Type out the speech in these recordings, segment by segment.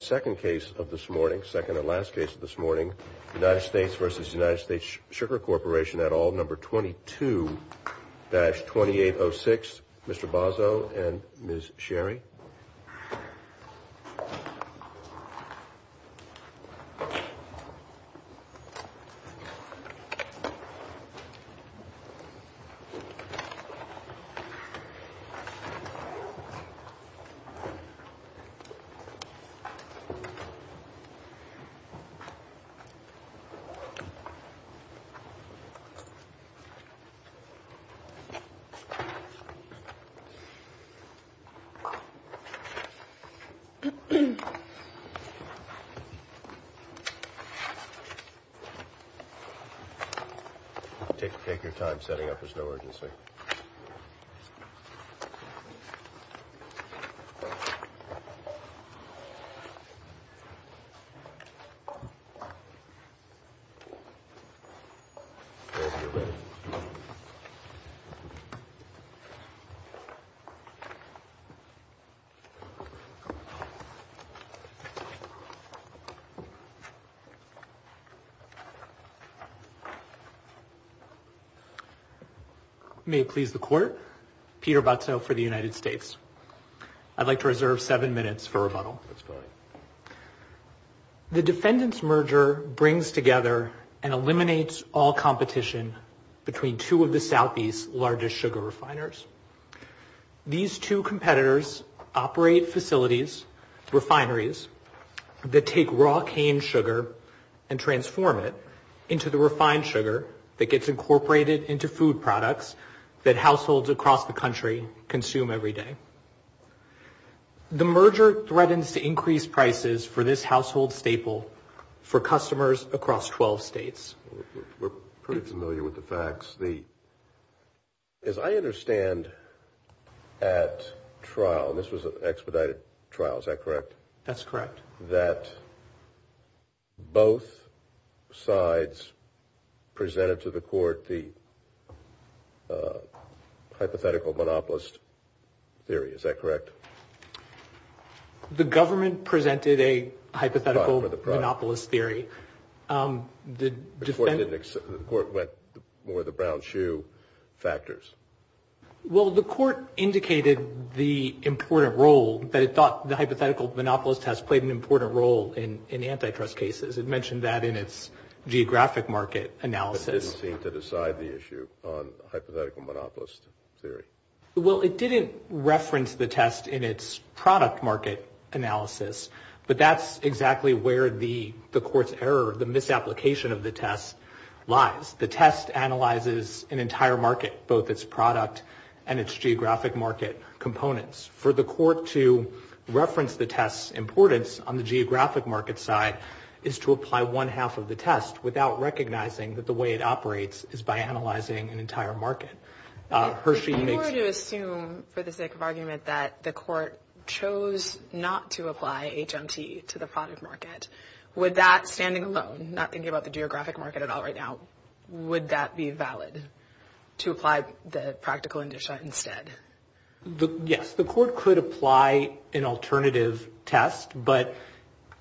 Second case of this morning, second and last case of this morning, United States v. United States Sugar Corporation at all, number 22-2806, Mr. Bozzo and Ms. Sherry. Take your time setting up, there's no urgency. Take your time setting up, there's no urgency. May it please the court, Peter Butzo for the United States. I'd like to reserve seven minutes for rebuttal. The defendant's merger brings together and eliminates all competition between two of the Southeast's largest sugar refiners. These two competitors operate facilities, refineries, that take raw cane sugar and transform it into the refined sugar that gets incorporated into food products that households across the country consume every day. The merger threatens to increase prices for this household staple for customers across 12 states. We're pretty familiar with the facts. As I understand at trial, and this was an expedited trial, is that correct? That's correct. That both sides presented to the court the hypothetical monopolist theory, is that correct? The government presented a hypothetical monopolist theory. The court went more the brown shoe factors. Well, the court indicated the important role that it thought the hypothetical monopolist test played an important role in antitrust cases. It mentioned that in its geographic market analysis. But it didn't seem to decide the issue on hypothetical monopolist theory. Well, it didn't reference the test in its product market analysis, but that's exactly where the court's error, the misapplication of the test lies. The test analyzes an entire market, both its product and its geographic market components. For the court to reference the test's importance on the geographic market side is to apply one half of the test without recognizing that the way it operates is by analyzing an entire market. If you were to assume, for the sake of argument, that the court chose not to apply HMT to the product market, would that, standing alone, not thinking about the geographic market at all right now, would that be valid to apply the practical indicator instead? Yes, the court could apply an alternative test, but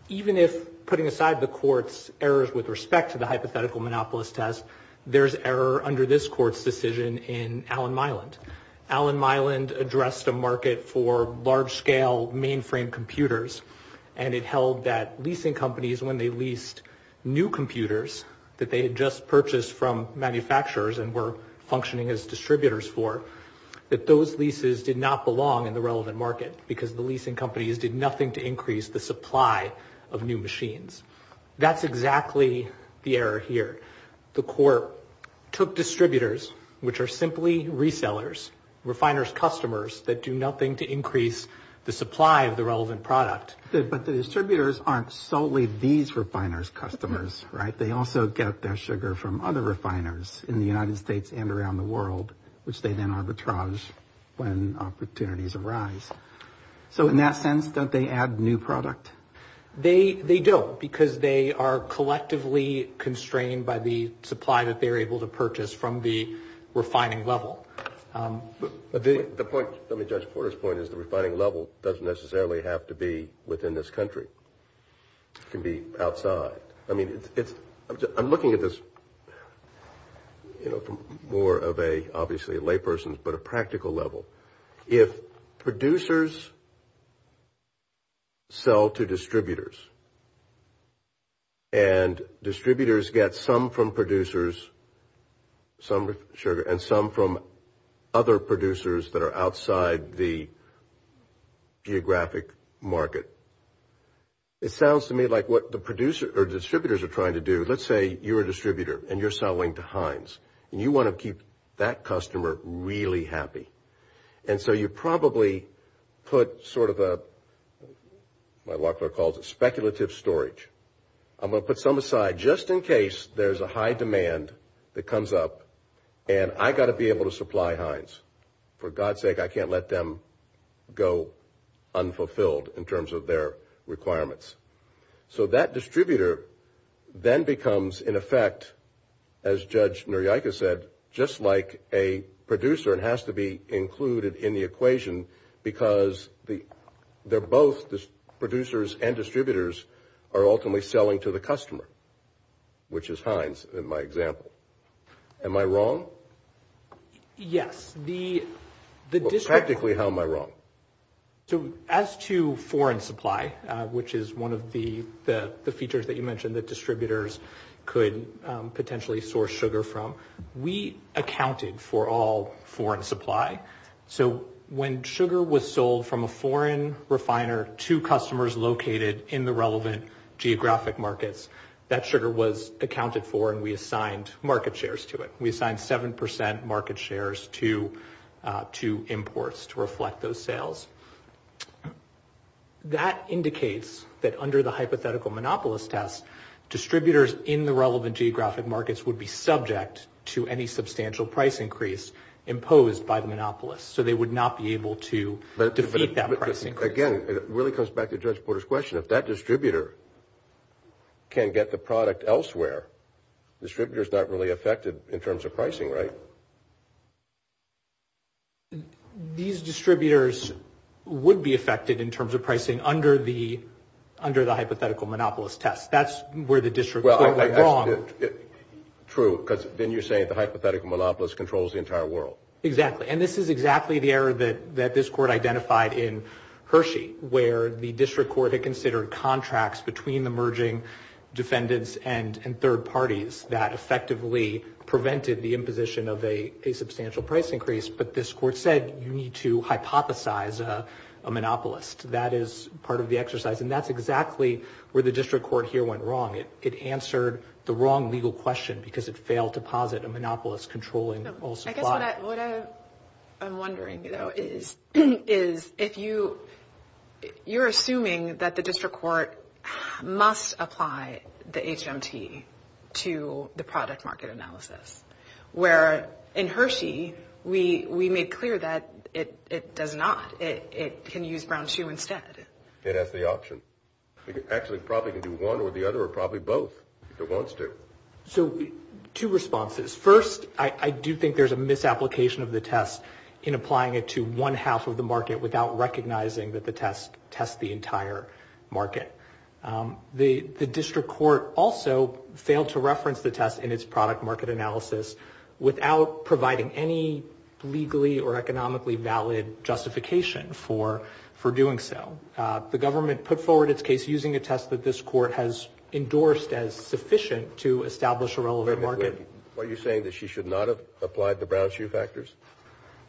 even if putting aside the court's errors with respect to the hypothetical monopolist test, there's error under this court's decision in Allen Myland. Allen Myland addressed a market for large-scale mainframe computers, and it held that leasing companies, when they leased new computers that they had just purchased from manufacturers and were functioning as distributors for, that those leases did not belong in the relevant market because the leasing companies did nothing to increase the supply of new machines. That's exactly the error here. The court took distributors, which are simply resellers, refiners' customers, that do nothing to increase the supply of the relevant product. But the distributors aren't solely these refiners' customers, right? They also get their sugar from other refiners in the United States and around the world, which they then arbitrage when opportunities arise. So in that sense, don't they add new product? They don't, because they are collectively constrained by the supply that they're able to purchase from the refining level. The point, let me judge Porter's point, is the refining level doesn't necessarily have to be within this country. It can be outside. I mean, I'm looking at this, you know, from more of a, obviously, a layperson's, but a practical level. If producers sell to distributors and distributors get some from producers, some sugar, and some from other producers that are outside the geographic market, it sounds to me like what the producer or distributors are trying to do, let's say you're a distributor and you're selling to Heinz, and you want to keep that customer really happy. And so you probably put sort of a, what Locklear calls a speculative storage. I'm going to put some aside just in case there's a high demand that comes up, and I've got to be able to supply Heinz. For God's sake, I can't let them go unfulfilled in terms of their requirements. So that distributor then becomes, in effect, as Judge Nuriayka said, just like a producer. It has to be included in the equation because they're both, the producers and distributors, are ultimately selling to the customer, which is Heinz in my example. Am I wrong? Practically, how am I wrong? So as to foreign supply, which is one of the features that you mentioned that distributors could potentially source sugar from, we accounted for all foreign supply. So when sugar was sold from a foreign refiner to customers located in the relevant geographic markets, that sugar was accounted for and we assigned market shares to it. We assigned 7% market shares to imports to reflect those sales. That indicates that under the hypothetical monopolist test, distributors in the relevant geographic markets would be subject to any substantial price increase imposed by the monopolist. So they would not be able to defeat that price increase. Again, it really comes back to Judge Porter's question. If that distributor can get the product elsewhere, the distributor's not really affected in terms of pricing, right? These distributors would be affected in terms of pricing under the hypothetical monopolist test. That's where the district court went wrong. True, because then you're saying the hypothetical monopolist controls the entire world. Exactly. And this is exactly the error that this court identified in Hershey, where the district court had considered contracts between the merging defendants and third parties that effectively prevented the imposition of a substantial price increase, but this court said you need to hypothesize a monopolist. That is part of the exercise, and that's exactly where the district court here went wrong. It answered the wrong legal question because it failed to posit a monopolist controlling all supply. I guess what I'm wondering, though, is if you're assuming that the district court must apply the HMT to the product market analysis, where in Hershey, we made clear that it does not. It can use Brown-Chu instead. It has the option. It actually probably can do one or the other or probably both if it wants to. So two responses. First, I do think there's a misapplication of the test in applying it to one half of the market without recognizing that the test tests the entire market. The district court also failed to reference the test in its product market analysis without providing any legally or economically valid justification for doing so. The government put forward its case using a test that this court has endorsed as sufficient to establish a relevant market. Are you saying that she should not have applied the Brown-Chu factors?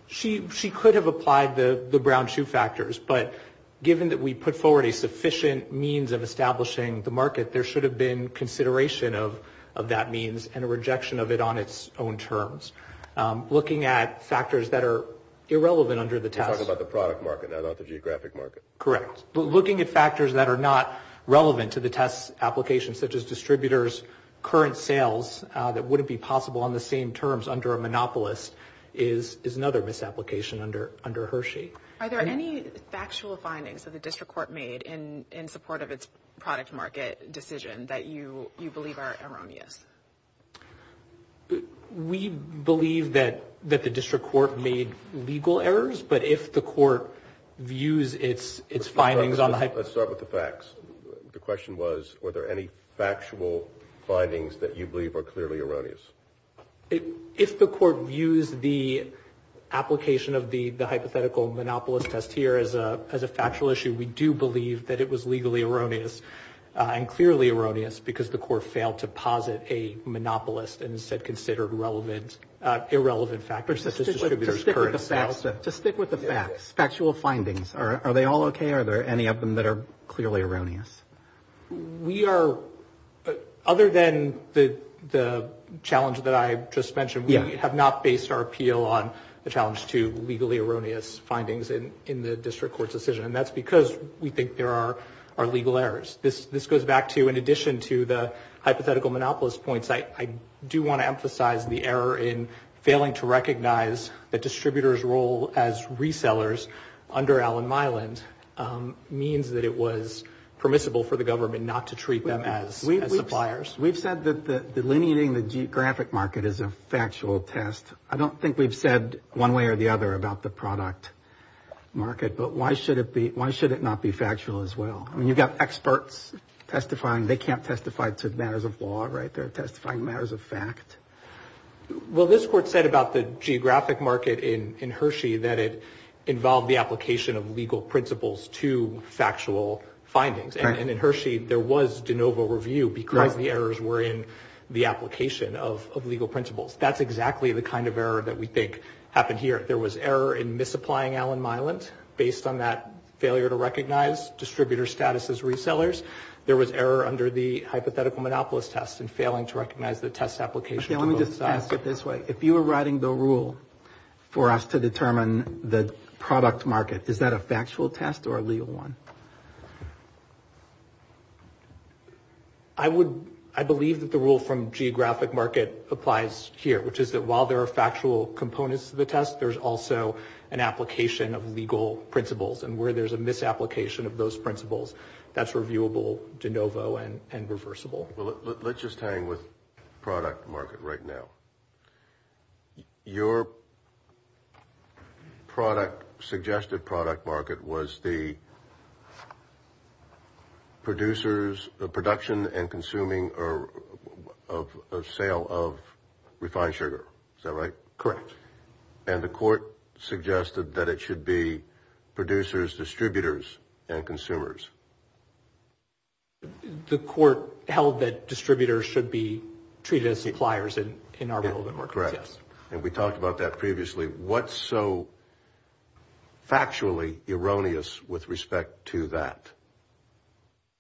She could have applied the Brown-Chu factors, but given that we put forward a sufficient means of establishing the market, there should have been consideration of that means and a rejection of it on its own terms. Looking at factors that are irrelevant under the test. You're talking about the product market, not the geographic market. Correct. Looking at factors that are not relevant to the test application, such as distributors, current sales that wouldn't be possible on the same terms under a monopolist is another misapplication under Hershey. Are there any factual findings that the district court made in support of its product market decision that you believe are erroneous? We believe that the district court made legal errors, but if the court views its findings on the... Let's start with the facts. The question was, were there any factual findings that you believe are clearly erroneous? If the court views the application of the hypothetical monopolist test here as a factual issue, we do believe that it was legally erroneous and clearly erroneous because the court failed to posit a monopolist and instead considered irrelevant factors such as distributors, current sales. To stick with the facts, factual findings. Are they all okay? Are there any of them that are clearly erroneous? We are... Other than the challenge that I just mentioned, we have not based our appeal on the challenge to legally erroneous findings in the district court's decision, and that's because we think there are legal errors. This goes back to, in addition to the hypothetical monopolist points, I do want to emphasize the error in failing to recognize that distributors' role as resellers under Allen Myland means that it was permissible for the government not to treat them as suppliers. We've said that delineating the geographic market is a factual test. I don't think we've said one way or the other about the product market, but why should it not be factual as well? I mean, you've got experts testifying. They can't testify to matters of law, right? They're testifying to matters of fact. Well, this court said about the geographic market in Hershey that it involved the application of legal principles to factual findings, and in Hershey, there was de novo review because the errors were in the application of legal principles. That's exactly the kind of error that we think happened here. There was error in misapplying Allen Myland based on that failure to recognize distributor status as resellers. There was error under the hypothetical monopolist test in failing to recognize the test application to both sides. Okay, let me just ask it this way. If you were writing the rule for us to determine the product market, is that a factual test or a legal one? I would, I believe that the rule from geographic market applies here, which is that while there are factual components to the test, there's also an application of legal principles and where there's a misapplication of those principles, that's reviewable de novo and reversible. Let's just hang with product market right now. Your product, suggested product market was the producers, the production and consuming or sale of refined sugar, is that right? Correct. And the court suggested that it should be producers, distributors, and consumers. The court held that distributors should be treated as suppliers in our relevant markets, yes. Correct. And we talked about that previously. What's so factually erroneous with respect to that?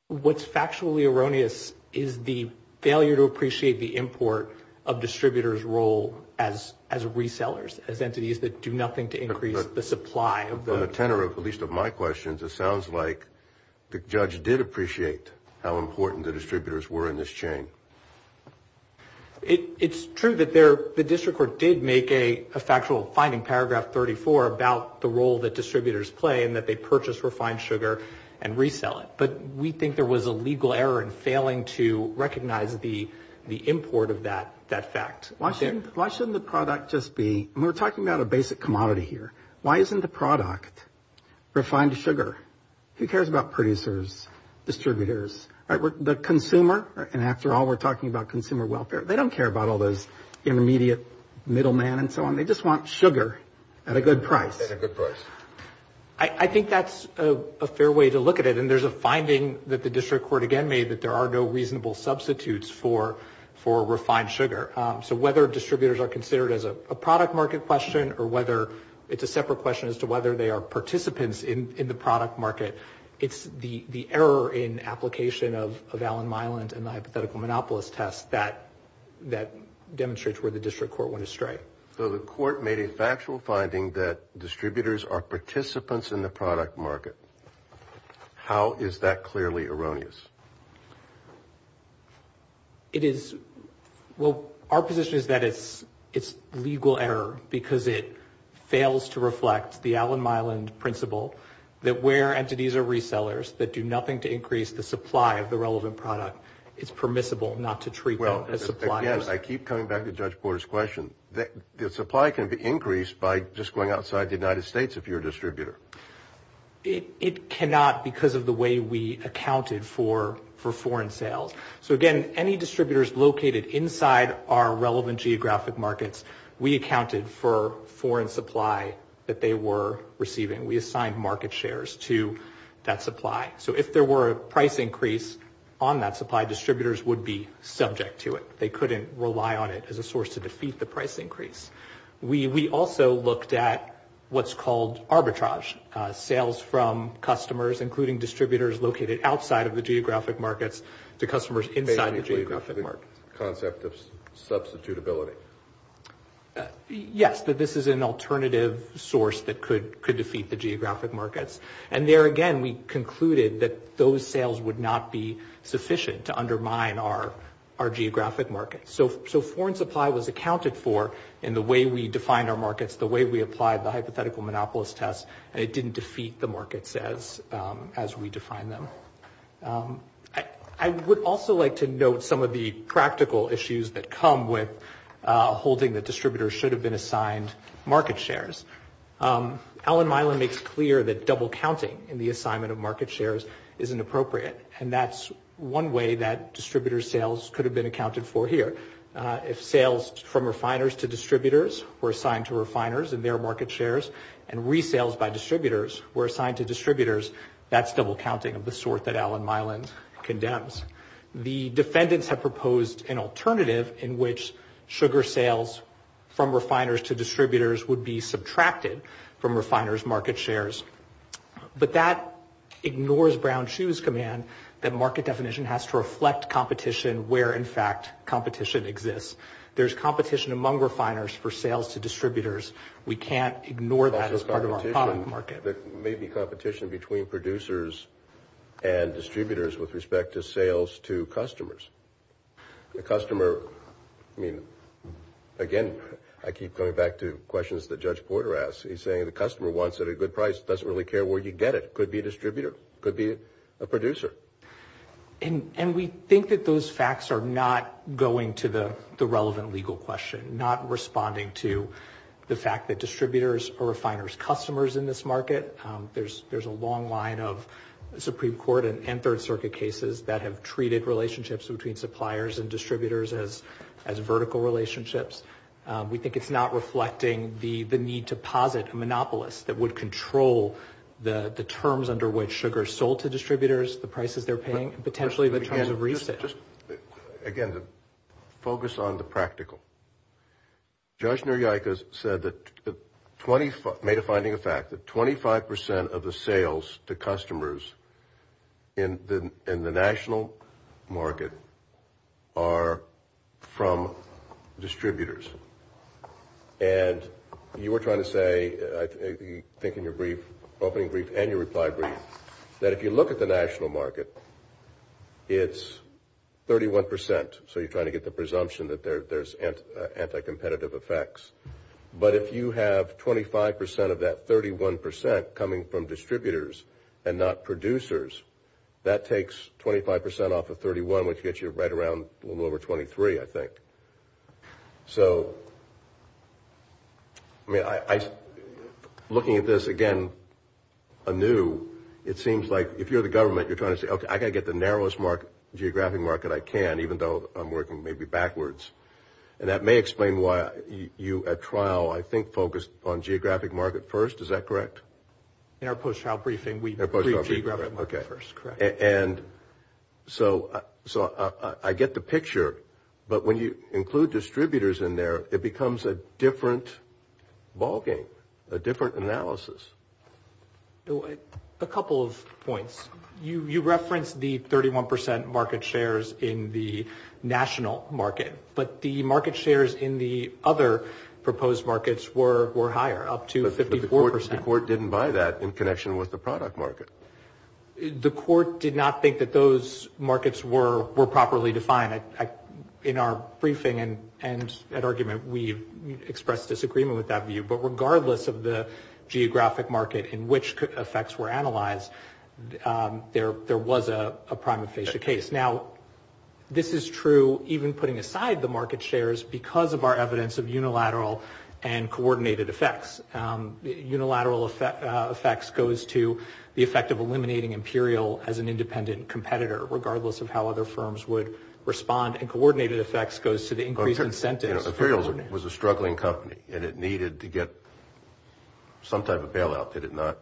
What's factually erroneous is the failure to appreciate the import of distributors' role as resellers, as entities that do nothing to increase the supply of the... The judge did appreciate how important the distributors were in this chain. It's true that the district court did make a factual finding, paragraph 34, about the role that distributors play in that they purchase refined sugar and resell it, but we think there was a legal error in failing to recognize the import of that fact. Why shouldn't the product just be... We're talking about a basic commodity here. Why isn't the product refined sugar? Who cares about producers, distributors? The consumer, and after all, we're talking about consumer welfare, they don't care about all those intermediate middlemen and so on. They just want sugar at a good price. At a good price. I think that's a fair way to look at it, and there's a finding that the district court again made that there are no reasonable substitutes for refined sugar. So whether distributors are considered as a product market question or whether it's a separate question as to whether they are participants in the product market, it's the error in application of Alan Miland and the hypothetical monopolist test that demonstrates where the district court went astray. So the court made a factual finding that distributors are participants in the product market. How is that clearly erroneous? It is... Well, our position is that it's legal error because it fails to reflect the Alan Miland principle that where entities are resellers that do nothing to increase the supply of the relevant product, it's permissible not to treat them as suppliers. Again, I keep coming back to Judge Porter's question. The supply can be increased by just going outside the United States if you're a distributor. It cannot because of the way we accounted for foreign sales. So again, any distributors located inside our relevant geographic markets, we accounted for foreign supply that they were receiving. We assigned market shares to that supply. So if there were a price increase on that supply, distributors would be subject to it. They couldn't rely on it as a source to defeat the price increase. We also looked at what's called arbitrage. Sales from customers, including distributors located outside of the geographic markets, to customers inside the geographic markets. The concept of substitutability. Yes, that this is an alternative source that could defeat the geographic markets. And there again, we concluded that those sales would not be sufficient to undermine our geographic markets. So foreign supply was accounted for in the way we defined our markets, the way we applied the hypothetical monopolist test, and it didn't defeat the markets as we defined them. I would also like to note some of the practical issues that come with holding that distributors should have been assigned market shares. Allen Milan makes clear that double counting in the assignment of market shares isn't appropriate, and that's one way that distributors' sales could have been accounted for here. If sales from refiners to distributors were assigned to refiners in their market shares and resales by distributors were assigned to distributors, that's double counting of the sort that Allen Milan condemns. The defendants have proposed an alternative in which sugar sales from refiners to distributors would be subtracted from refiners' market shares. But that ignores Brown-Chu's command that market definition has to reflect competition where, in fact, competition exists. There's competition among refiners for sales to distributors. We can't ignore that as part of our common market. There may be competition between producers and distributors with respect to sales to customers. The customer, I mean, again, I keep coming back to questions that Judge Porter asked. He's saying the customer wants it at a good price, doesn't really care where you get it, could be a distributor, could be a producer. And we think that those facts are not going to the relevant legal question, not responding to the fact that distributors are refiners' customers in this market. There's a long line of Supreme Court and Third Circuit cases that have treated relationships between suppliers and distributors as vertical relationships. We think it's not reflecting the need to posit a monopolist that would control the terms under which sugar is sold to distributors, the prices they're paying, and potentially the terms of receipt. Again, focus on the practical. Judge Nuryiakas said that 25% of the sales to customers in the national market are from distributors. And you were trying to say, I think in your opening brief and your reply brief, that if you look at the national market, it's 31%. So you're trying to get the presumption that there's anti-competitive effects. But if you have 25% of that 31% coming from distributors and not producers, that takes 25% off of 31%, which gets you right around a little over 23%, I think. So, I mean, looking at this again anew, it seems like if you're the government, you're trying to say, okay, I've got to get the narrowest geographic market I can, even though I'm working maybe backwards. And that may explain why you at trial, I think, focused on geographic market first. Is that correct? In our post-trial briefing, we briefed geographic market first, correct. And so I get the picture, but when you include distributors in there, it becomes a different ballgame, a different analysis. A couple of points. You referenced the 31% market shares in the national market, but the market shares in the other proposed markets were higher, up to 54%. The court didn't buy that in connection with the product market. The court did not think that those markets were properly defined. In our briefing and at argument, we expressed disagreement with that view. But regardless of the geographic market in which effects were analyzed, there was a prima facie case. Now, this is true even putting aside the market shares because of our evidence of unilateral and coordinated effects. Unilateral effects goes to the effect of eliminating Imperial as an independent competitor, regardless of how other firms would respond. And coordinated effects goes to the increased incentives. Imperial was a struggling company, and it needed to get some type of bailout, did it not?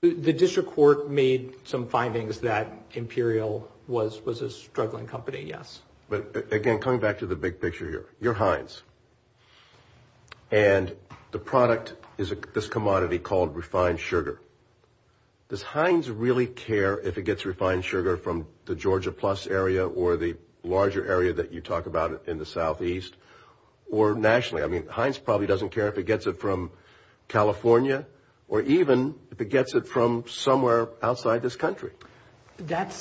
The district court made some findings that Imperial was a struggling company, yes. But, again, coming back to the big picture here. You're Heinz, and the product is this commodity called refined sugar. Does Heinz really care if it gets refined sugar from the Georgia Plus area or the larger area that you talk about in the southeast or nationally? I mean, Heinz probably doesn't care if it gets it from California or even if it gets it from somewhere outside this country. That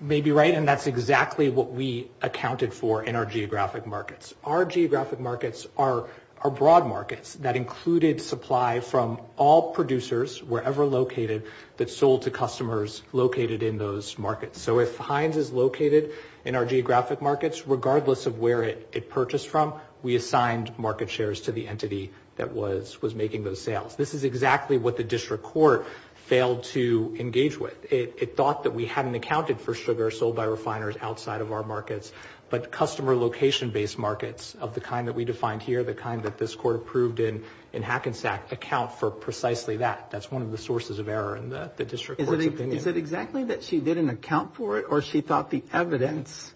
may be right, and that's exactly what we accounted for in our geographic markets. Our geographic markets are broad markets that included supply from all producers, wherever located, that sold to customers located in those markets. So if Heinz is located in our geographic markets, regardless of where it purchased from, we assigned market shares to the entity that was making those sales. This is exactly what the district court failed to engage with. It thought that we hadn't accounted for sugar sold by refiners outside of our markets, but customer location-based markets of the kind that we defined here, the kind that this court approved in Hackensack, account for precisely that. That's one of the sources of error in the district court's opinion. Is it exactly that she didn't account for it, or she thought the evidence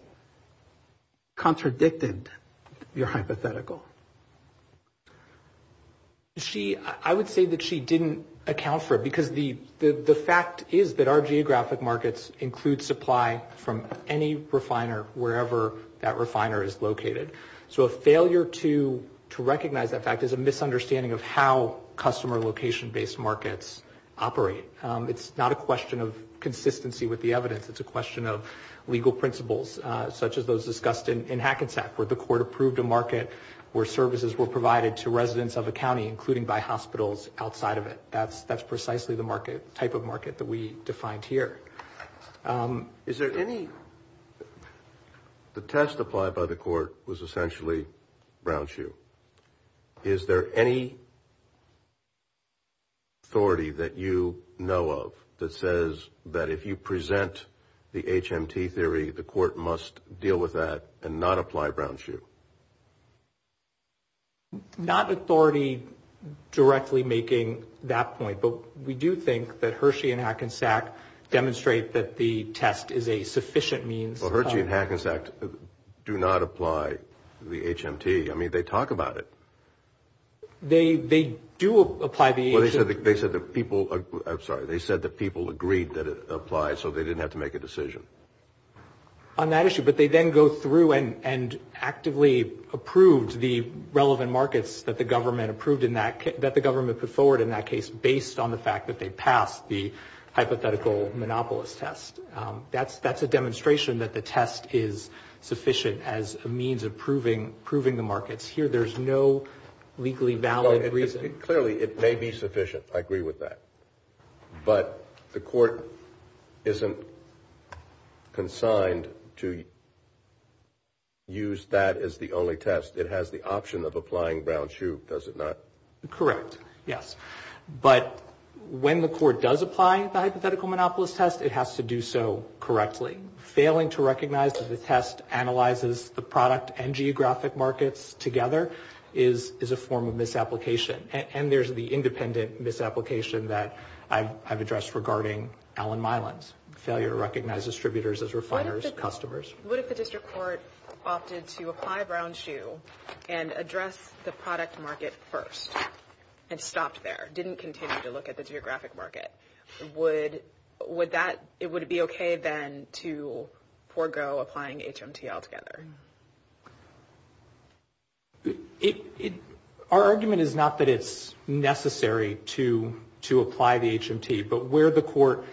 contradicted your hypothetical? I would say that she didn't account for it, because the fact is that our geographic markets include supply from any refiner, wherever that refiner is located. So a failure to recognize that fact is a misunderstanding of how customer location-based markets operate. It's not a question of consistency with the evidence. It's a question of legal principles, such as those discussed in Hackensack, where the court approved a market where services were provided to residents of a county, including by hospitals outside of it. That's precisely the type of market that we defined here. The test applied by the court was essentially brown shoe. Is there any authority that you know of that says that if you present the HMT theory, the court must deal with that and not apply brown shoe? Not authority directly making that point, but we do think that Hershey and Hackensack demonstrate that the test is a sufficient means. Well, Hershey and Hackensack do not apply the HMT. I mean, they talk about it. They do apply the HMT. I'm sorry. They said that people agreed that it applied so they didn't have to make a decision. On that issue. But they then go through and actively approved the relevant markets that the government put forward in that case based on the fact that they passed the hypothetical monopolist test. That's a demonstration that the test is sufficient as a means of proving the markets. Here there's no legally valid reason. Clearly it may be sufficient. I agree with that. But the court isn't consigned to use that as the only test. It has the option of applying brown shoe, does it not? Correct. Yes. But when the court does apply the hypothetical monopolist test, it has to do so correctly. Failing to recognize that the test analyzes the product and geographic markets together is a form of misapplication. And there's the independent misapplication that I've addressed regarding Allen Mylands, failure to recognize distributors as refiners, customers. What if the district court opted to apply brown shoe and address the product market first and stopped there, didn't continue to look at the geographic market? Would that be okay then to forego applying HMT altogether? Our argument is not that it's necessary to apply the HMT, but where the court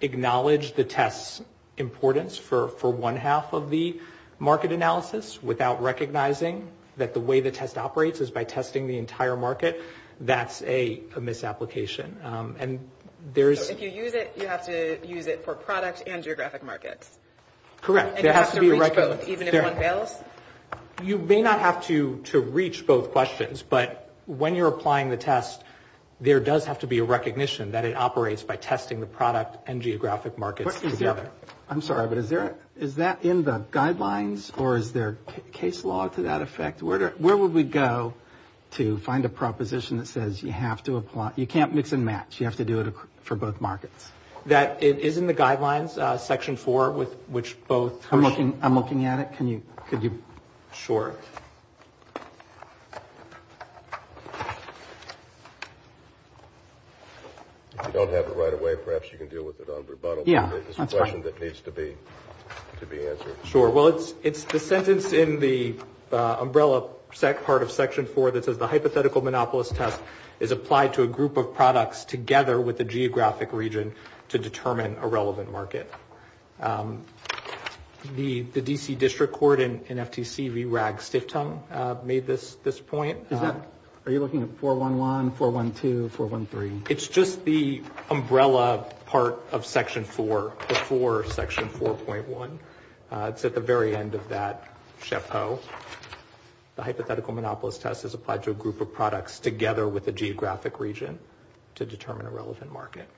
acknowledged the test's importance for one half of the market analysis without recognizing that the way the test operates is by testing the entire market, that's a misapplication. So if you use it, you have to use it for product and geographic markets? Correct. And you have to reach both even if one fails? You may not have to reach both questions, but when you're applying the test there does have to be a recognition that it operates by testing the product and geographic markets together. I'm sorry, but is that in the guidelines or is there case law to that effect? Where would we go to find a proposition that says you have to apply, you can't mix and match, you have to do it for both markets? That is in the guidelines, section four, which both. I'm looking at it. Could you? Sure. If you don't have it right away, perhaps you can deal with it on rebuttal. Yeah, that's fine. It's a question that needs to be answered. Sure. Well, it's the sentence in the umbrella part of section four that says the hypothetical monopolist test is applied to a group of products together with the geographic region to determine a relevant market. The D.C. District Court and FTC made this point. Are you looking at 411, 412, 413? It's just the umbrella part of section four before section 4.1. It's at the very end of that chapeau. The hypothetical monopolist test is applied to a group of products together with the geographic region to determine a relevant market.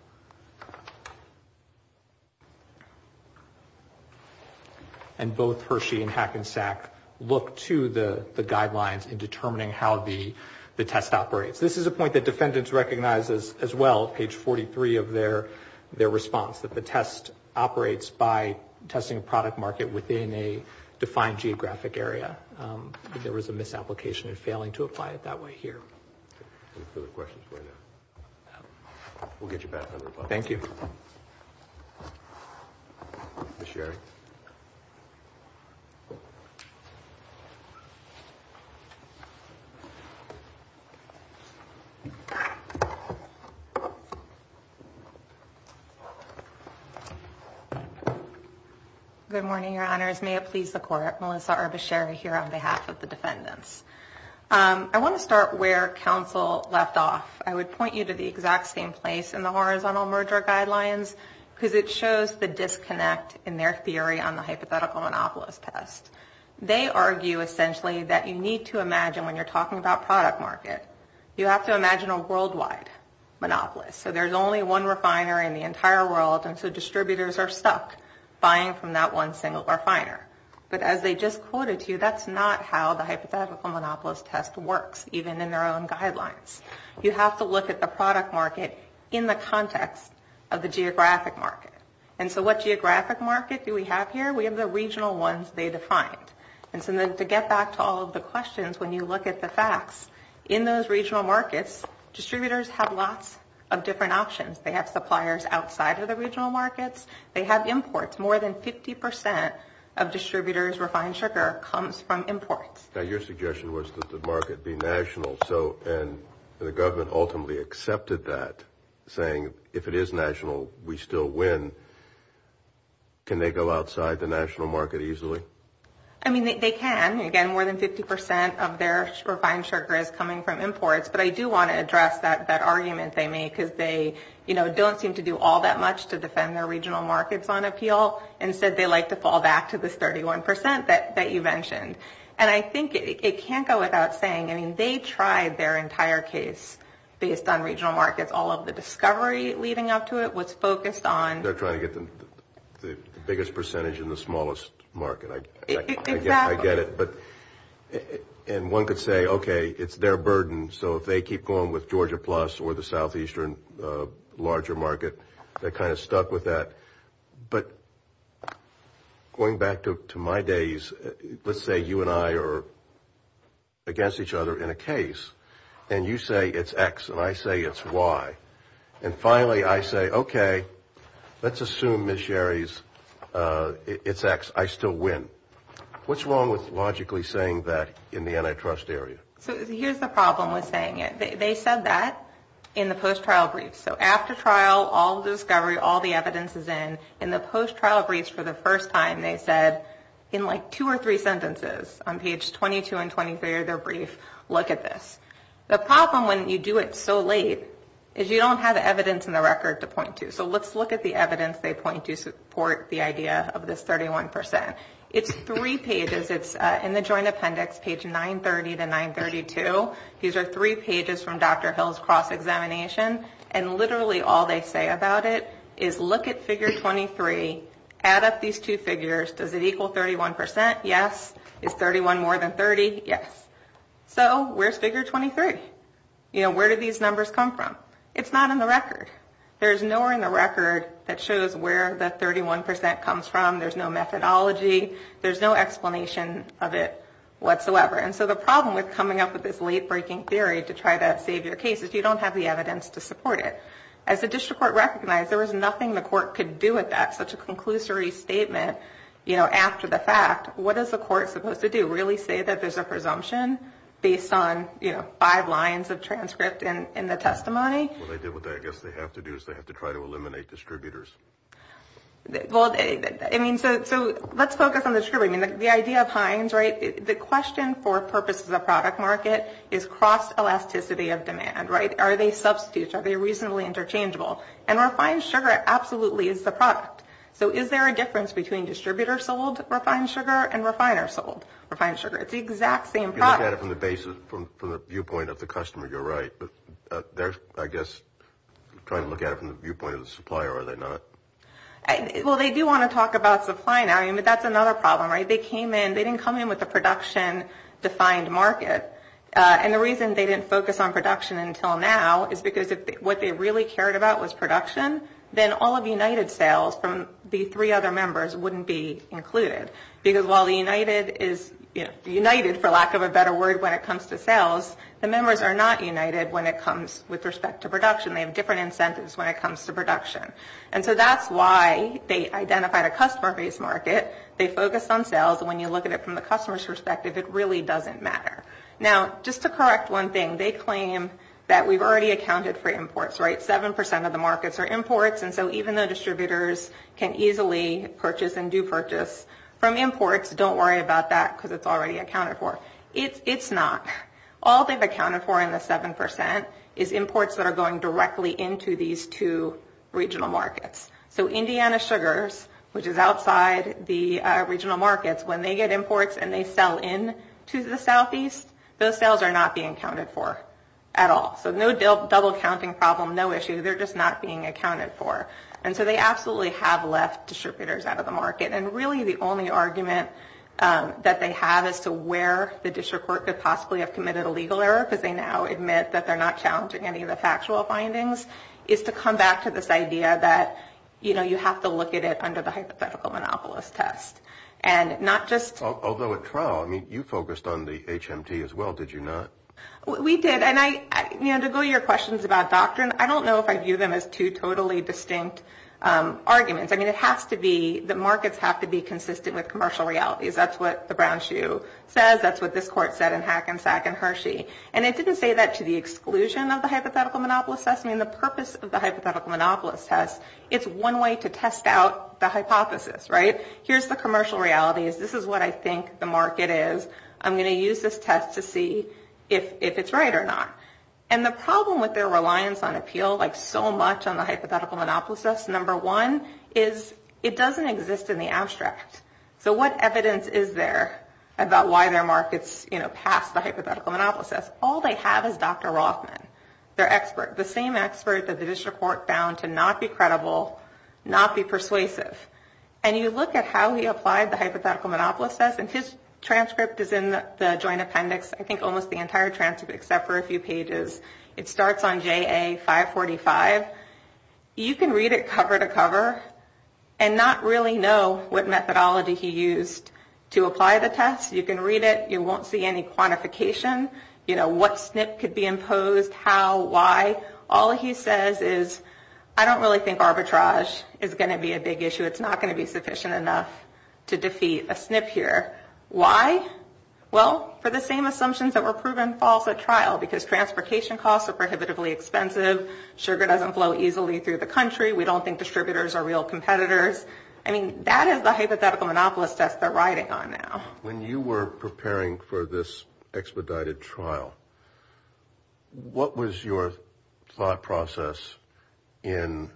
And both Hershey and Hackensack look to the guidelines in determining how the test operates. This is a point that defendants recognize as well, page 43 of their response, that the test operates by testing a product market within a defined geographic area. There was a misapplication in failing to apply it that way here. Any further questions right now? We'll get you back. Thank you. Ms. Sherry. Good morning, Your Honors. May it please the Court. Melissa Arbasheri here on behalf of the defendants. I want to start where counsel left off. I would point you to the exact same place in the horizontal merger guidelines because it shows the disconnect in their theory on the hypothetical monopolist test. They argue essentially that you need to imagine when you're talking about product market, you have to imagine a worldwide monopolist. So there's only one refiner in the entire world, and so distributors are stuck buying from that one single refiner. But as they just quoted to you, that's not how the hypothetical monopolist test works, even in their own guidelines. You have to look at the product market in the context of the geographic market. And so what geographic market do we have here? We have the regional ones they defined. And so to get back to all of the questions, when you look at the facts, in those regional markets, distributors have lots of different options. They have suppliers outside of the regional markets. They have imports. More than 50% of distributors' refined sugar comes from imports. Now, your suggestion was that the market be national, and the government ultimately accepted that, saying if it is national, we still win. Can they go outside the national market easily? I mean, they can. Again, more than 50% of their refined sugar is coming from imports. But I do want to address that argument they made because they don't seem to do all that much to defend their regional markets on appeal. Instead, they like to fall back to this 31% that you mentioned. And I think it can't go without saying, I mean, they tried their entire case based on regional markets. All of the discovery leading up to it was focused on – They're trying to get the biggest percentage in the smallest market. Exactly. I get it. And one could say, okay, it's their burden, so if they keep going with Georgia Plus or the southeastern larger market, they're kind of stuck with that. But going back to my days, let's say you and I are against each other in a case, and you say it's X and I say it's Y. And finally, I say, okay, let's assume, Ms. Sherry, it's X, I still win. What's wrong with logically saying that in the antitrust area? So here's the problem with saying it. They said that in the post-trial brief. So after trial, all the discovery, all the evidence is in. In the post-trial briefs for the first time, they said in like two or three sentences, on page 22 and 23 of their brief, look at this. The problem when you do it so late is you don't have the evidence in the record to point to. So let's look at the evidence they point to support the idea of this 31%. It's three pages. It's in the joint appendix, page 930 to 932. These are three pages from Dr. Hill's cross-examination, and literally all they say about it is look at figure 23, add up these two figures. Does it equal 31%? Yes. Is 31 more than 30? Yes. So where's figure 23? You know, where do these numbers come from? It's not in the record. There's nowhere in the record that shows where that 31% comes from. There's no methodology. There's no explanation of it whatsoever. And so the problem with coming up with this late-breaking theory to try to save your case is you don't have the evidence to support it. As the district court recognized, there was nothing the court could do with that, such a conclusory statement, you know, after the fact. What is the court supposed to do? Really say that there's a presumption based on, you know, five lines of transcript in the testimony? Well, I guess what they have to do is they have to try to eliminate distributors. Well, I mean, so let's focus on the distributor. I mean, the idea of Heinz, right, the question for purpose of the product market is cross-elasticity of demand, right? Are they substitutes? Are they reasonably interchangeable? And refined sugar absolutely is the product. So is there a difference between distributor-sold refined sugar and refiner-sold refined sugar? It's the exact same product. You look at it from the basis, from the viewpoint of the customer, you're right. But they're, I guess, trying to look at it from the viewpoint of the supplier, are they not? Well, they do want to talk about supply now. I mean, but that's another problem, right? They came in, they didn't come in with a production-defined market. And the reason they didn't focus on production until now is because what they really cared about was production. Then all of United sales from the three other members wouldn't be included. Because while the United is, you know, united, for lack of a better word, when it comes to sales, the members are not united when it comes with respect to production. They have different incentives when it comes to production. And so that's why they identified a customer-based market. They focused on sales. And when you look at it from the customer's perspective, it really doesn't matter. Now, just to correct one thing, they claim that we've already accounted for imports, right? Seven percent of the markets are imports. And so even though distributors can easily purchase and do purchase from imports, don't worry about that because it's already accounted for. It's not. All they've accounted for in the seven percent is imports that are going directly into these two regional markets. So Indiana Sugars, which is outside the regional markets, when they get imports and they sell in to the southeast, those sales are not being accounted for at all. So no double-counting problem, no issue. They're just not being accounted for. And so they absolutely have left distributors out of the market. And really the only argument that they have as to where the district court could possibly have committed a legal error, because they now admit that they're not challenging any of the factual findings, is to come back to this idea that, you know, you have to look at it under the hypothetical monopolist test. And not just – Although at trial, I mean, you focused on the HMT as well, did you not? We did. And, you know, to go to your questions about doctrine, I don't know if I view them as two totally distinct arguments. I mean, it has to be – the markets have to be consistent with commercial realities. That's what the brown shoe says. That's what this court said in Hackensack and Hershey. And it didn't say that to the exclusion of the hypothetical monopolist test. I mean, the purpose of the hypothetical monopolist test, it's one way to test out the hypothesis, right? Here's the commercial realities. This is what I think the market is. I'm going to use this test to see if it's right or not. And the problem with their reliance on appeal, like so much on the hypothetical monopolist test, number one is it doesn't exist in the abstract. So what evidence is there about why their markets, you know, pass the hypothetical monopolist test? All they have is Dr. Rothman, their expert, the same expert that the district court found to not be credible, not be persuasive. And you look at how he applied the hypothetical monopolist test, and his transcript is in the joint appendix, I think almost the entire transcript except for a few pages. It starts on JA 545. You can read it cover to cover and not really know what methodology he used to apply the test. You can read it. You won't see any quantification, you know, what SNP could be imposed, how, why. All he says is, I don't really think arbitrage is going to be a big issue. It's not going to be sufficient enough to defeat a SNP here. Why? Well, for the same assumptions that were proven false at trial, because transportation costs are prohibitively expensive, sugar doesn't flow easily through the country, we don't think distributors are real competitors. I mean, that is the hypothetical monopolist test they're riding on now. When you were preparing for this expedited trial, what was your thought process in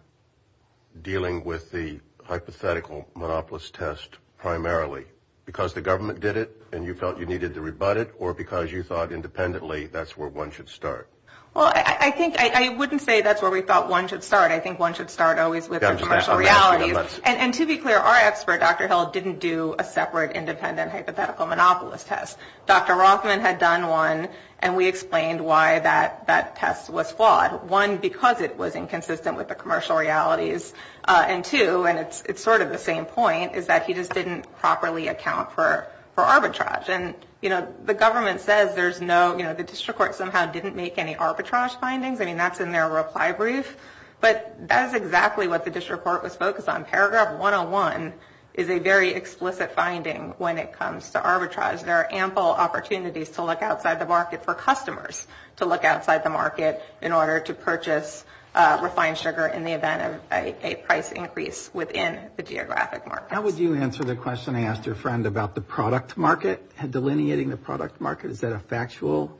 dealing with the hypothetical monopolist test primarily? Because the government did it and you felt you needed to rebut it, or because you thought independently that's where one should start? Well, I think I wouldn't say that's where we thought one should start. I think one should start always with the commercial realities. And to be clear, our expert, Dr. Hill, didn't do a separate independent hypothetical monopolist test. Dr. Rothman had done one, and we explained why that test was flawed. One, because it was inconsistent with the commercial realities. And two, and it's sort of the same point, is that he just didn't properly account for arbitrage. And, you know, the government says there's no, you know, the district court somehow didn't make any arbitrage findings. I mean, that's in their reply brief. But that is exactly what the district court was focused on. Paragraph 101 is a very explicit finding when it comes to arbitrage. There are ample opportunities to look outside the market for customers to look outside the market in order to purchase refined sugar in the event of a price increase within the geographic markets. How would you answer the question I asked your friend about the product market, delineating the product market? Is that a factual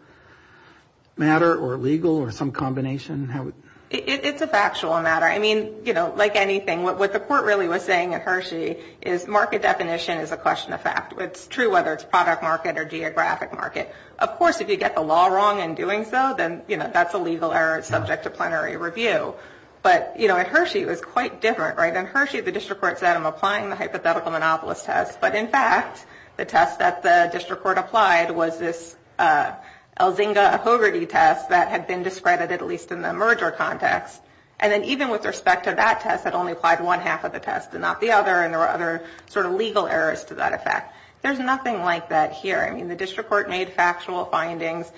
matter or legal or some combination? It's a factual matter. I mean, you know, like anything, what the court really was saying at Hershey is market definition is a question of fact. It's true whether it's product market or geographic market. Of course, if you get the law wrong in doing so, then, you know, that's a legal error. It's subject to plenary review. But, you know, at Hershey it was quite different, right? At Hershey the district court said I'm applying the hypothetical monopolist test. But, in fact, the test that the district court applied was this Elzinga-Hogarty test that had been discredited, at least in the merger context. And then even with respect to that test, it only applied to one half of the test and not the other, and there were other sort of legal errors to that effect. There's nothing like that here. I mean, the district court made factual findings.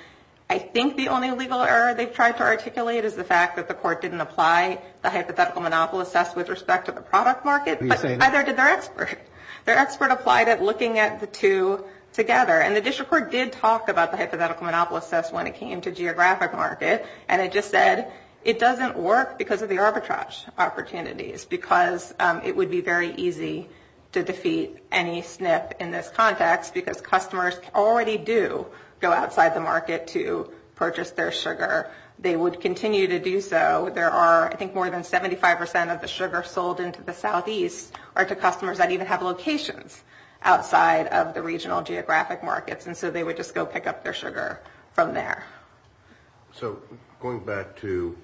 I think the only legal error they've tried to articulate is the fact that the court didn't apply the hypothetical monopolist test with respect to the product market, but neither did their expert. Their expert applied it looking at the two together. And the district court did talk about the hypothetical monopolist test when it came to geographic market, and it just said it doesn't work because of the arbitrage opportunities, because it would be very easy to defeat any SNP in this context, because customers already do go outside the market to purchase their sugar. They would continue to do so. There are, I think, more than 75% of the sugar sold into the southeast are to customers that even have locations outside of the regional geographic markets, and so they would just go pick up their sugar from there. So going back to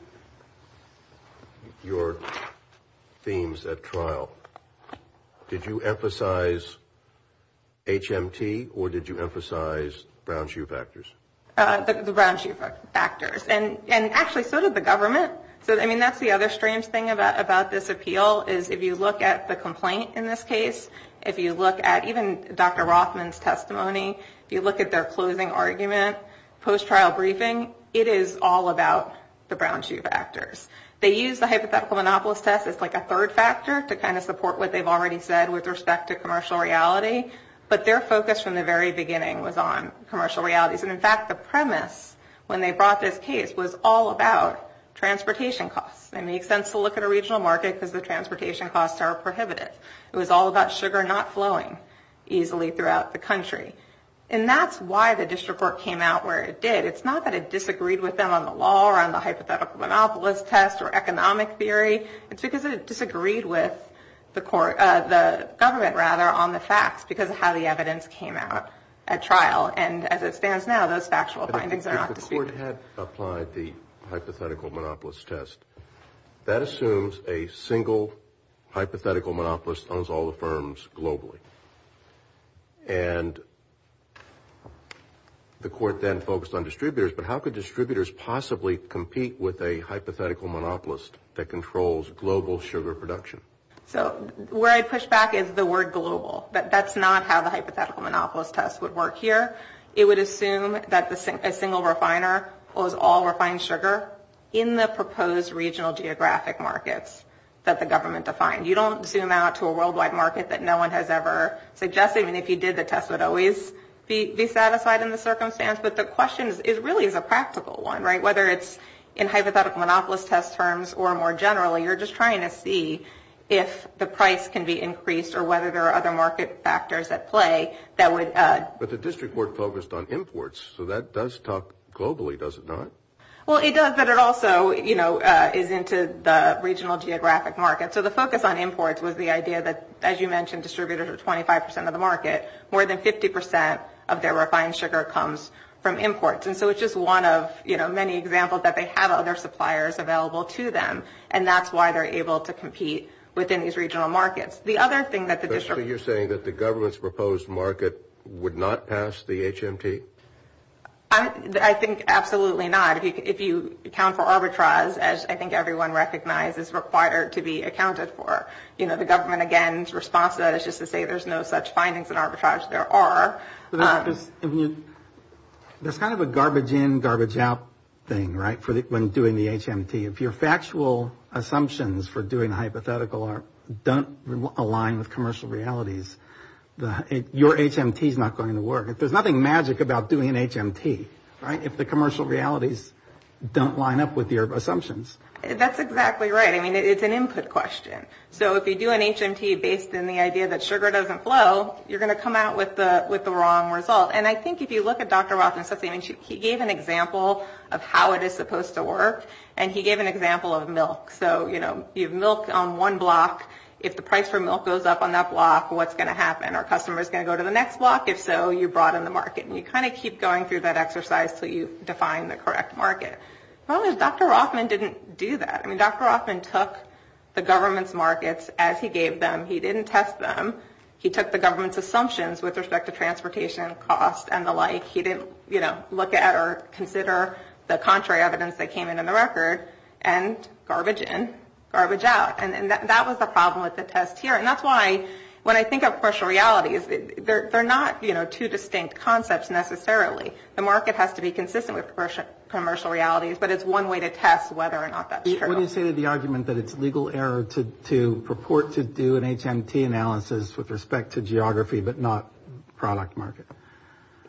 your themes at trial, did you emphasize HMT, or did you emphasize brown shoe factors? The brown shoe factors. And actually, so did the government. I mean, that's the other strange thing about this appeal, is if you look at the complaint in this case, if you look at even Dr. Rothman's testimony, if you look at their closing argument, post-trial briefing, it is all about the brown shoe factors. They used the hypothetical monopolist test as like a third factor to kind of support what they've already said with respect to commercial reality, but their focus from the very beginning was on commercial realities. And, in fact, the premise when they brought this case was all about transportation costs. It makes sense to look at a regional market because the transportation costs are prohibited. It was all about sugar not flowing easily throughout the country. And that's why the district court came out where it did. It's not that it disagreed with them on the law or on the hypothetical monopolist test or economic theory. It's because it disagreed with the government on the facts because of how the evidence came out at trial. And as it stands now, those factual findings are not disputed. If the court had applied the hypothetical monopolist test, that assumes a single hypothetical monopolist owns all the firms globally. And the court then focused on distributors, but how could distributors possibly compete with a hypothetical monopolist that controls global sugar production? So where I push back is the word global. That's not how the hypothetical monopolist test would work here. It would assume that a single refiner owns all refined sugar in the proposed regional geographic markets that the government defined. You don't zoom out to a worldwide market that no one has ever suggested. And if you did, the test would always be satisfied in the circumstance. But the question really is a practical one, right? Whether it's in hypothetical monopolist test terms or more generally, you're just trying to see if the price can be increased or whether there are other market factors at play that would add. But the district court focused on imports. So that does talk globally, does it not? Well, it does. But it also, you know, is into the regional geographic market. So the focus on imports was the idea that, as you mentioned, distributors are 25 percent of the market. More than 50 percent of their refined sugar comes from imports. And so it's just one of, you know, many examples that they have other suppliers available to them. And that's why they're able to compete within these regional markets. The other thing that the district. So you're saying that the government's proposed market would not pass the HMT? I think absolutely not. If you account for arbitrage, as I think everyone recognizes, required to be accounted for. You know, the government, again, is responsive. It's just to say there's no such findings in arbitrage. There are. That's kind of a garbage in, garbage out thing, right, when doing the HMT. If your factual assumptions for doing hypothetical don't align with commercial realities, your HMT is not going to work. There's nothing magic about doing an HMT, right, if the commercial realities don't line up with your assumptions. That's exactly right. I mean, it's an input question. So if you do an HMT based on the idea that sugar doesn't flow, you're going to come out with the wrong result. And I think if you look at Dr. Rothman, he gave an example of how it is supposed to work. And he gave an example of milk. So, you know, you have milk on one block. If the price for milk goes up on that block, what's going to happen? Are customers going to go to the next block? If so, you broaden the market. And you kind of keep going through that exercise until you define the correct market. The problem is Dr. Rothman didn't do that. I mean, Dr. Rothman took the government's markets as he gave them. He didn't test them. He took the government's assumptions with respect to transportation costs and the like. He didn't, you know, look at or consider the contrary evidence that came in on the record and garbage in, garbage out. And that was the problem with the test here. And that's why when I think of commercial realities, they're not, you know, two distinct concepts necessarily. The market has to be consistent with commercial realities. But it's one way to test whether or not that's true. What do you say to the argument that it's legal error to purport to do an HMT analysis with respect to geography but not product market?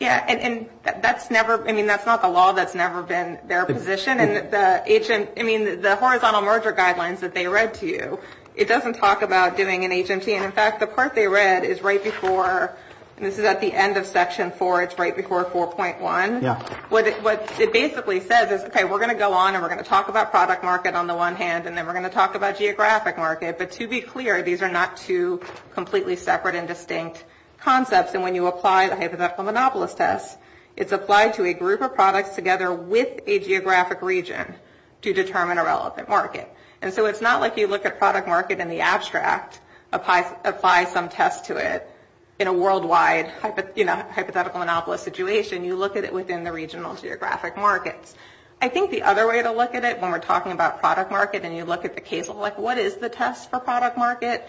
Yeah, and that's never, I mean, that's not the law that's never been their position. And the HMT, I mean, the horizontal merger guidelines that they read to you, it doesn't talk about doing an HMT. And, in fact, the part they read is right before, and this is at the end of Section 4, it's right before 4.1. Yeah. What it basically says is, okay, we're going to go on and we're going to talk about product market on the one hand, and then we're going to talk about geographic market. But to be clear, these are not two completely separate and distinct concepts. And when you apply the hypothetical monopolist test, it's applied to a group of products together with a geographic region to determine a relevant market. And so it's not like you look at product market in the abstract, apply some test to it in a worldwide hypothetical monopolist situation. You look at it within the regional geographic markets. I think the other way to look at it when we're talking about product market and you look at the case like what is the test for product market,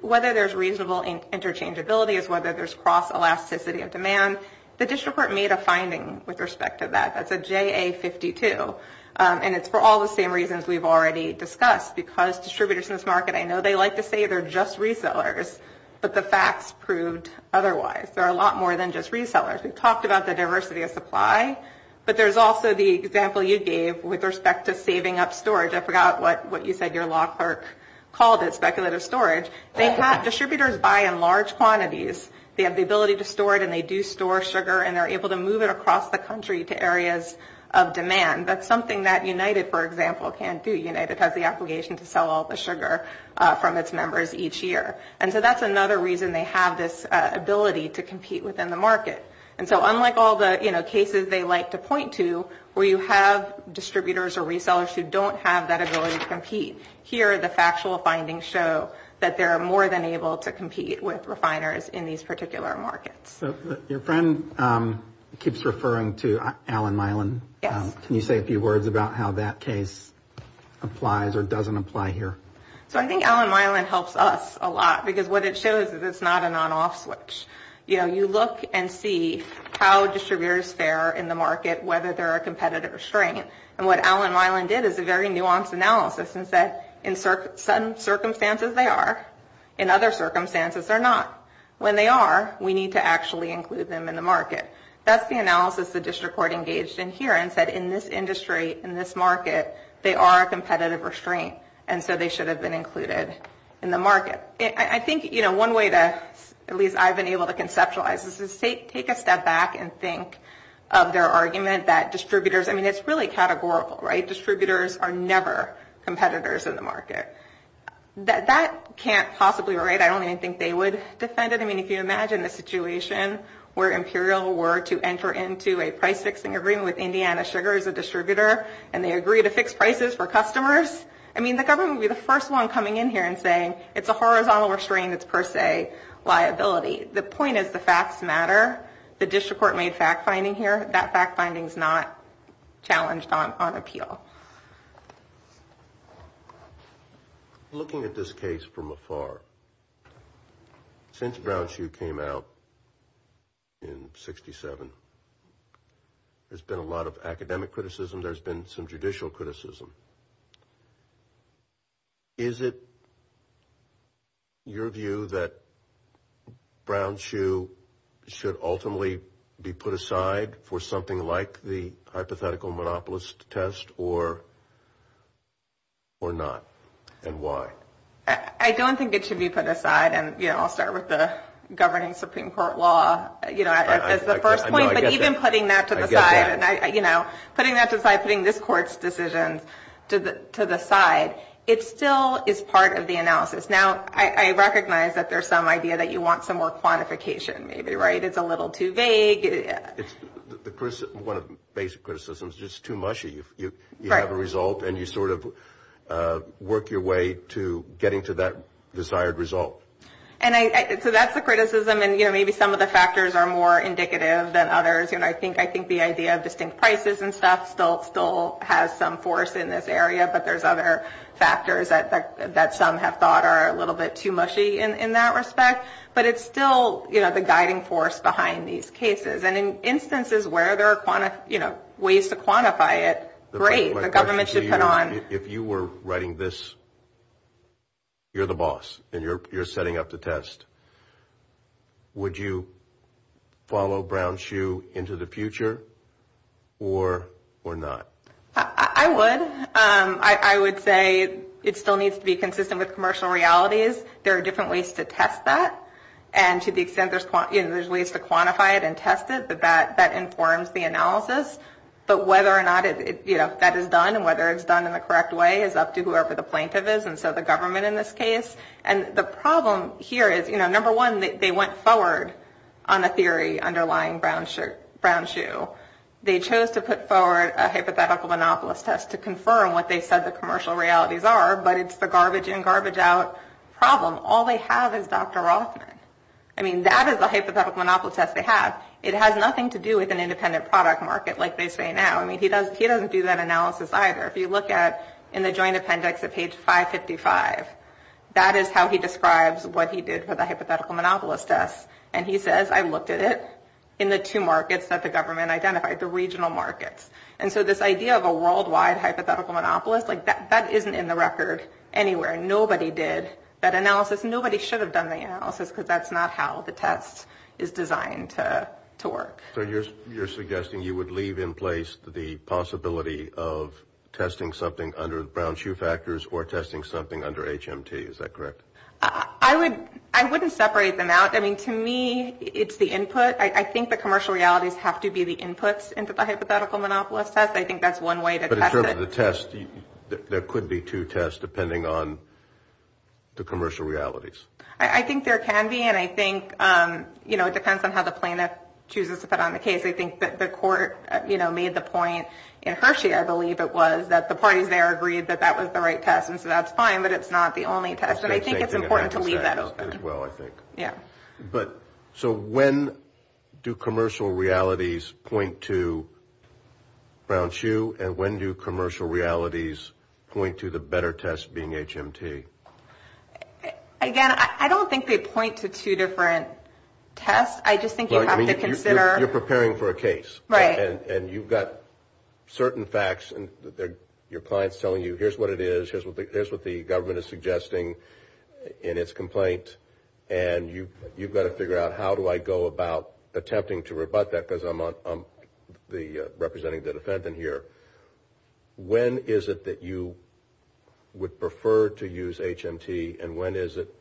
whether there's reasonable interchangeability is whether there's cross-elasticity of demand. The district court made a finding with respect to that. That's a JA-52. And it's for all the same reasons we've already discussed, because distributors in this market, I know they like to say they're just resellers, but the facts proved otherwise. There are a lot more than just resellers. We've talked about the diversity of supply, but there's also the example you gave with respect to saving up storage. I forgot what you said your law clerk called it, speculative storage. Distributors buy in large quantities. They have the ability to store it, and they do store sugar, and they're able to move it across the country to areas of demand. That's something that United, for example, can't do. United has the obligation to sell all the sugar from its members each year. And so that's another reason they have this ability to compete within the market. And so unlike all the cases they like to point to where you have distributors or resellers who don't have that ability to compete, here the factual findings show that they're more than able to compete with refiners in these particular markets. Your friend keeps referring to Allen Mylan. Can you say a few words about how that case applies or doesn't apply here? So I think Allen Mylan helps us a lot, because what it shows is it's not an on-off switch. You know, you look and see how distributors fare in the market, whether they're a competitor or a strain. And what Allen Mylan did is a very nuanced analysis and said, in certain circumstances they are, in other circumstances they're not. When they are, we need to actually include them in the market. That's the analysis the district court engaged in here and said, in this industry, in this market, they are a competitive restraint, and so they should have been included in the market. I think, you know, one way to, at least I've been able to conceptualize this, is take a step back and think of their argument that distributors, I mean, it's really categorical, right? Distributors are never competitors in the market. That can't possibly be right. I don't even think they would defend it. I mean, if you imagine the situation where Imperial were to enter into a price-fixing agreement with Indiana Sugar as a distributor, and they agree to fix prices for customers, I mean, the government would be the first one coming in here and saying, it's a horizontal restraint, it's per se liability. The point is the facts matter. The district court made fact-finding here. That fact-finding is not challenged on appeal. Looking at this case from afar, since Brown Shoe came out in 67, there's been a lot of academic criticism. There's been some judicial criticism. Is it your view that Brown Shoe should ultimately be put aside for something like the hypothetical monopolist test or not, and why? I don't think it should be put aside. And, you know, I'll start with the governing Supreme Court law, you know, as the first point. But even putting that to the side, you know, putting that to the side, putting this court's decision to the side, it still is part of the analysis. Now, I recognize that there's some idea that you want some more quantification maybe, right? It's a little too vague. One of the basic criticisms is it's too mushy. You have a result, and you sort of work your way to getting to that desired result. And so that's the criticism, and, you know, maybe some of the factors are more indicative than others. You know, I think the idea of distinct prices and stuff still has some force in this area, but there's other factors that some have thought are a little bit too mushy in that respect. But it's still, you know, the guiding force behind these cases. And in instances where there are, you know, ways to quantify it, great, the government should put on. If you were writing this, you're the boss, and you're setting up the test, would you follow Brown-Hsu into the future or not? I would. I would say it still needs to be consistent with commercial realities. There are different ways to test that. And to the extent there's ways to quantify it and test it, that informs the analysis. But whether or not, you know, that is done and whether it's done in the correct way is up to whoever the plaintiff is, and so the government in this case. And the problem here is, you know, number one, they went forward on the theory underlying Brown-Hsu. They chose to put forward a hypothetical monopolist test to confirm what they said the commercial realities are, but it's the garbage in, garbage out problem. All they have is Dr. Rothman. I mean, that is the hypothetical monopolist test they have. It has nothing to do with an independent product market like they say now. I mean, he doesn't do that analysis either. If you look at, in the joint appendix at page 555, that is how he describes what he did for the hypothetical monopolist test. And he says, I looked at it in the two markets that the government identified, the regional markets. And so this idea of a worldwide hypothetical monopolist, like that isn't in the record anywhere. Nobody did that analysis. Nobody should have done the analysis because that's not how the test is designed to work. So you're suggesting you would leave in place the possibility of testing something under Brown-Hsu factors or testing something under HMT. Is that correct? I wouldn't separate them out. I mean, to me, it's the input. I think the commercial realities have to be the inputs into the hypothetical monopolist test. I think that's one way to test it. But in terms of the test, there could be two tests depending on the commercial realities. I think there can be. And I think, you know, it depends on how the plaintiff chooses to put on the case. I think that the court, you know, made the point in Hershey, I believe it was, that the parties there agreed that that was the right test. And so that's fine. But it's not the only test. And I think it's important to leave that open. Well, I think. Yeah. But so when do commercial realities point to Brown-Hsu? And when do commercial realities point to the better test being HMT? Again, I don't think they point to two different tests. I just think you have to consider. You're preparing for a case. Right. And you've got certain facts. And your client's telling you here's what it is, here's what the government is suggesting in its complaint. And you've got to figure out how do I go about attempting to rebut that because I'm representing the defendant here. When is it that you would prefer to use HMT? And when is it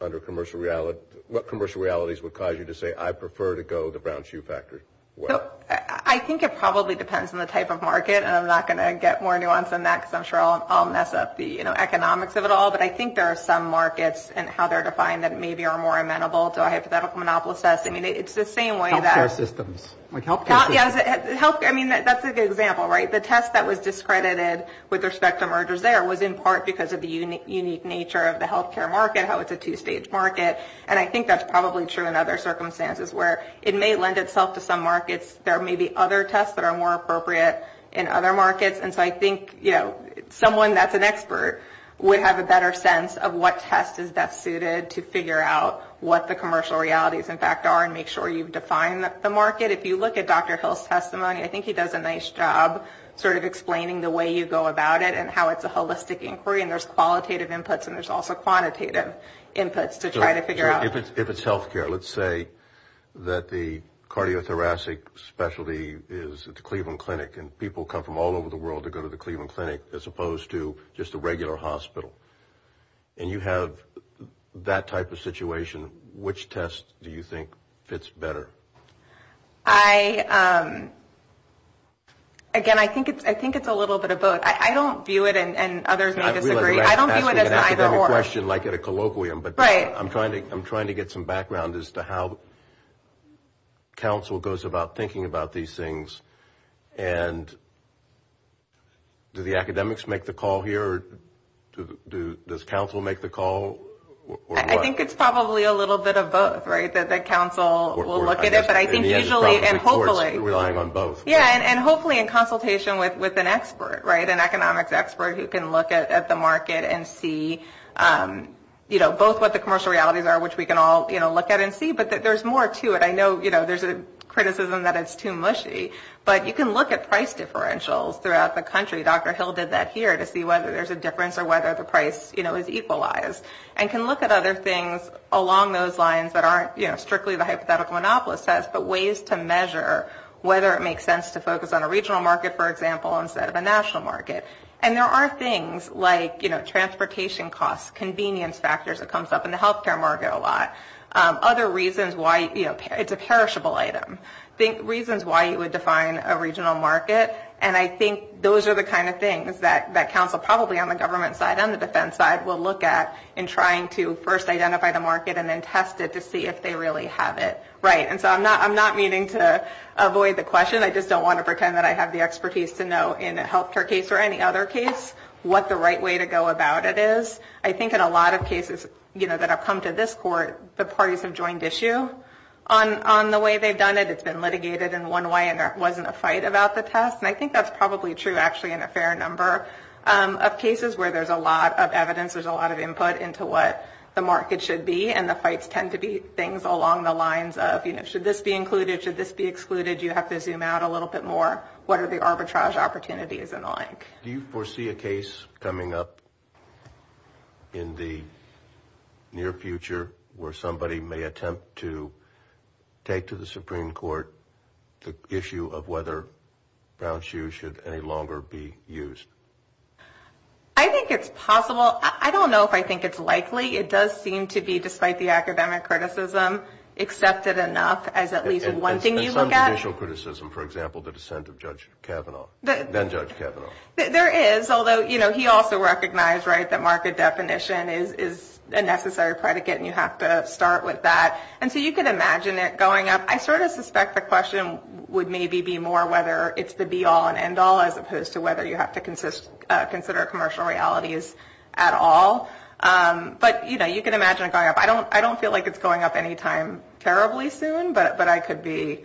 under commercial realities, what commercial realities would cause you to say I prefer to go the Brown-Hsu factor? Well, I think it probably depends on the type of market. And I'm not going to get more nuanced than that because I'm sure I'll mess up the, you know, economics of it all. But I think there are some markets and how they're defined that maybe are more amenable to a hypothetical monopolist test. I mean, it's the same way that. Healthcare systems. Like healthcare systems. Yeah. Because, I mean, that's a good example, right? The test that was discredited with respect to mergers there was in part because of the unique nature of the healthcare market, how it's a two-stage market. And I think that's probably true in other circumstances where it may lend itself to some markets. There may be other tests that are more appropriate in other markets. And so I think, you know, someone that's an expert would have a better sense of what test is best suited to figure out what the commercial realities, in fact, are and make sure you define the market. If you look at Dr. Hill's testimony, I think he does a nice job sort of explaining the way you go about it and how it's a holistic inquiry. And there's qualitative inputs and there's also quantitative inputs to try to figure out. If it's healthcare, let's say that the cardiothoracic specialty is at the Cleveland Clinic and people come from all over the world to go to the Cleveland Clinic as opposed to just a regular hospital. And you have that type of situation, which test do you think fits better? I, again, I think it's a little bit of both. I don't view it and others may disagree. I don't view it as an either or. I'm asking an academic question like at a colloquium. Right. But I'm trying to get some background as to how council goes about thinking about these things. And do the academics make the call here? Does council make the call? I think it's probably a little bit of both, right, that the council will look at it. But I think usually and hopefully. Relying on both. Yeah, and hopefully in consultation with an expert, right, an economics expert who can look at the market and see, you know, both what the commercial realities are, which we can all, you know, look at and see. But there's more to it. I know, you know, there's a criticism that it's too mushy. But you can look at price differentials throughout the country. Dr. Hill did that here to see whether there's a difference or whether the price, you know, is equalized. And can look at other things along those lines that aren't, you know, strictly the hypothetical monopolist test, but ways to measure whether it makes sense to focus on a regional market, for example, instead of a national market. And there are things like, you know, transportation costs, convenience factors that comes up in the healthcare market a lot. Other reasons why, you know, it's a perishable item. Think reasons why you would define a regional market. And I think those are the kind of things that council probably on the government side and the defense side will look at in trying to first identify the market and then test it to see if they really have it right. And so I'm not meaning to avoid the question. I just don't want to pretend that I have the expertise to know in a healthcare case or any other case what the right way to go about it is. I think in a lot of cases, you know, that have come to this court, the parties have joined issue on the way they've done it. It's been litigated in one way and there wasn't a fight about the test. And I think that's probably true actually in a fair number of cases where there's a lot of evidence. There's a lot of input into what the market should be. And the fights tend to be things along the lines of, you know, should this be included? Should this be excluded? You have to zoom out a little bit more. What are the arbitrage opportunities and the like? Do you foresee a case coming up in the near future where somebody may attempt to take to the Supreme Court the issue of whether brown shoes should any longer be used? I think it's possible. I don't know if I think it's likely. It does seem to be, despite the academic criticism, accepted enough as at least one thing you look at. Judicial criticism, for example, the dissent of Judge Kavanaugh, then Judge Kavanaugh. There is, although, you know, he also recognized, right, that market definition is a necessary predicate and you have to start with that. And so you can imagine it going up. I sort of suspect the question would maybe be more whether it's the be-all and end-all as opposed to whether you have to consider commercial realities at all. But, you know, you can imagine it going up. I don't feel like it's going up any time terribly soon, but I could be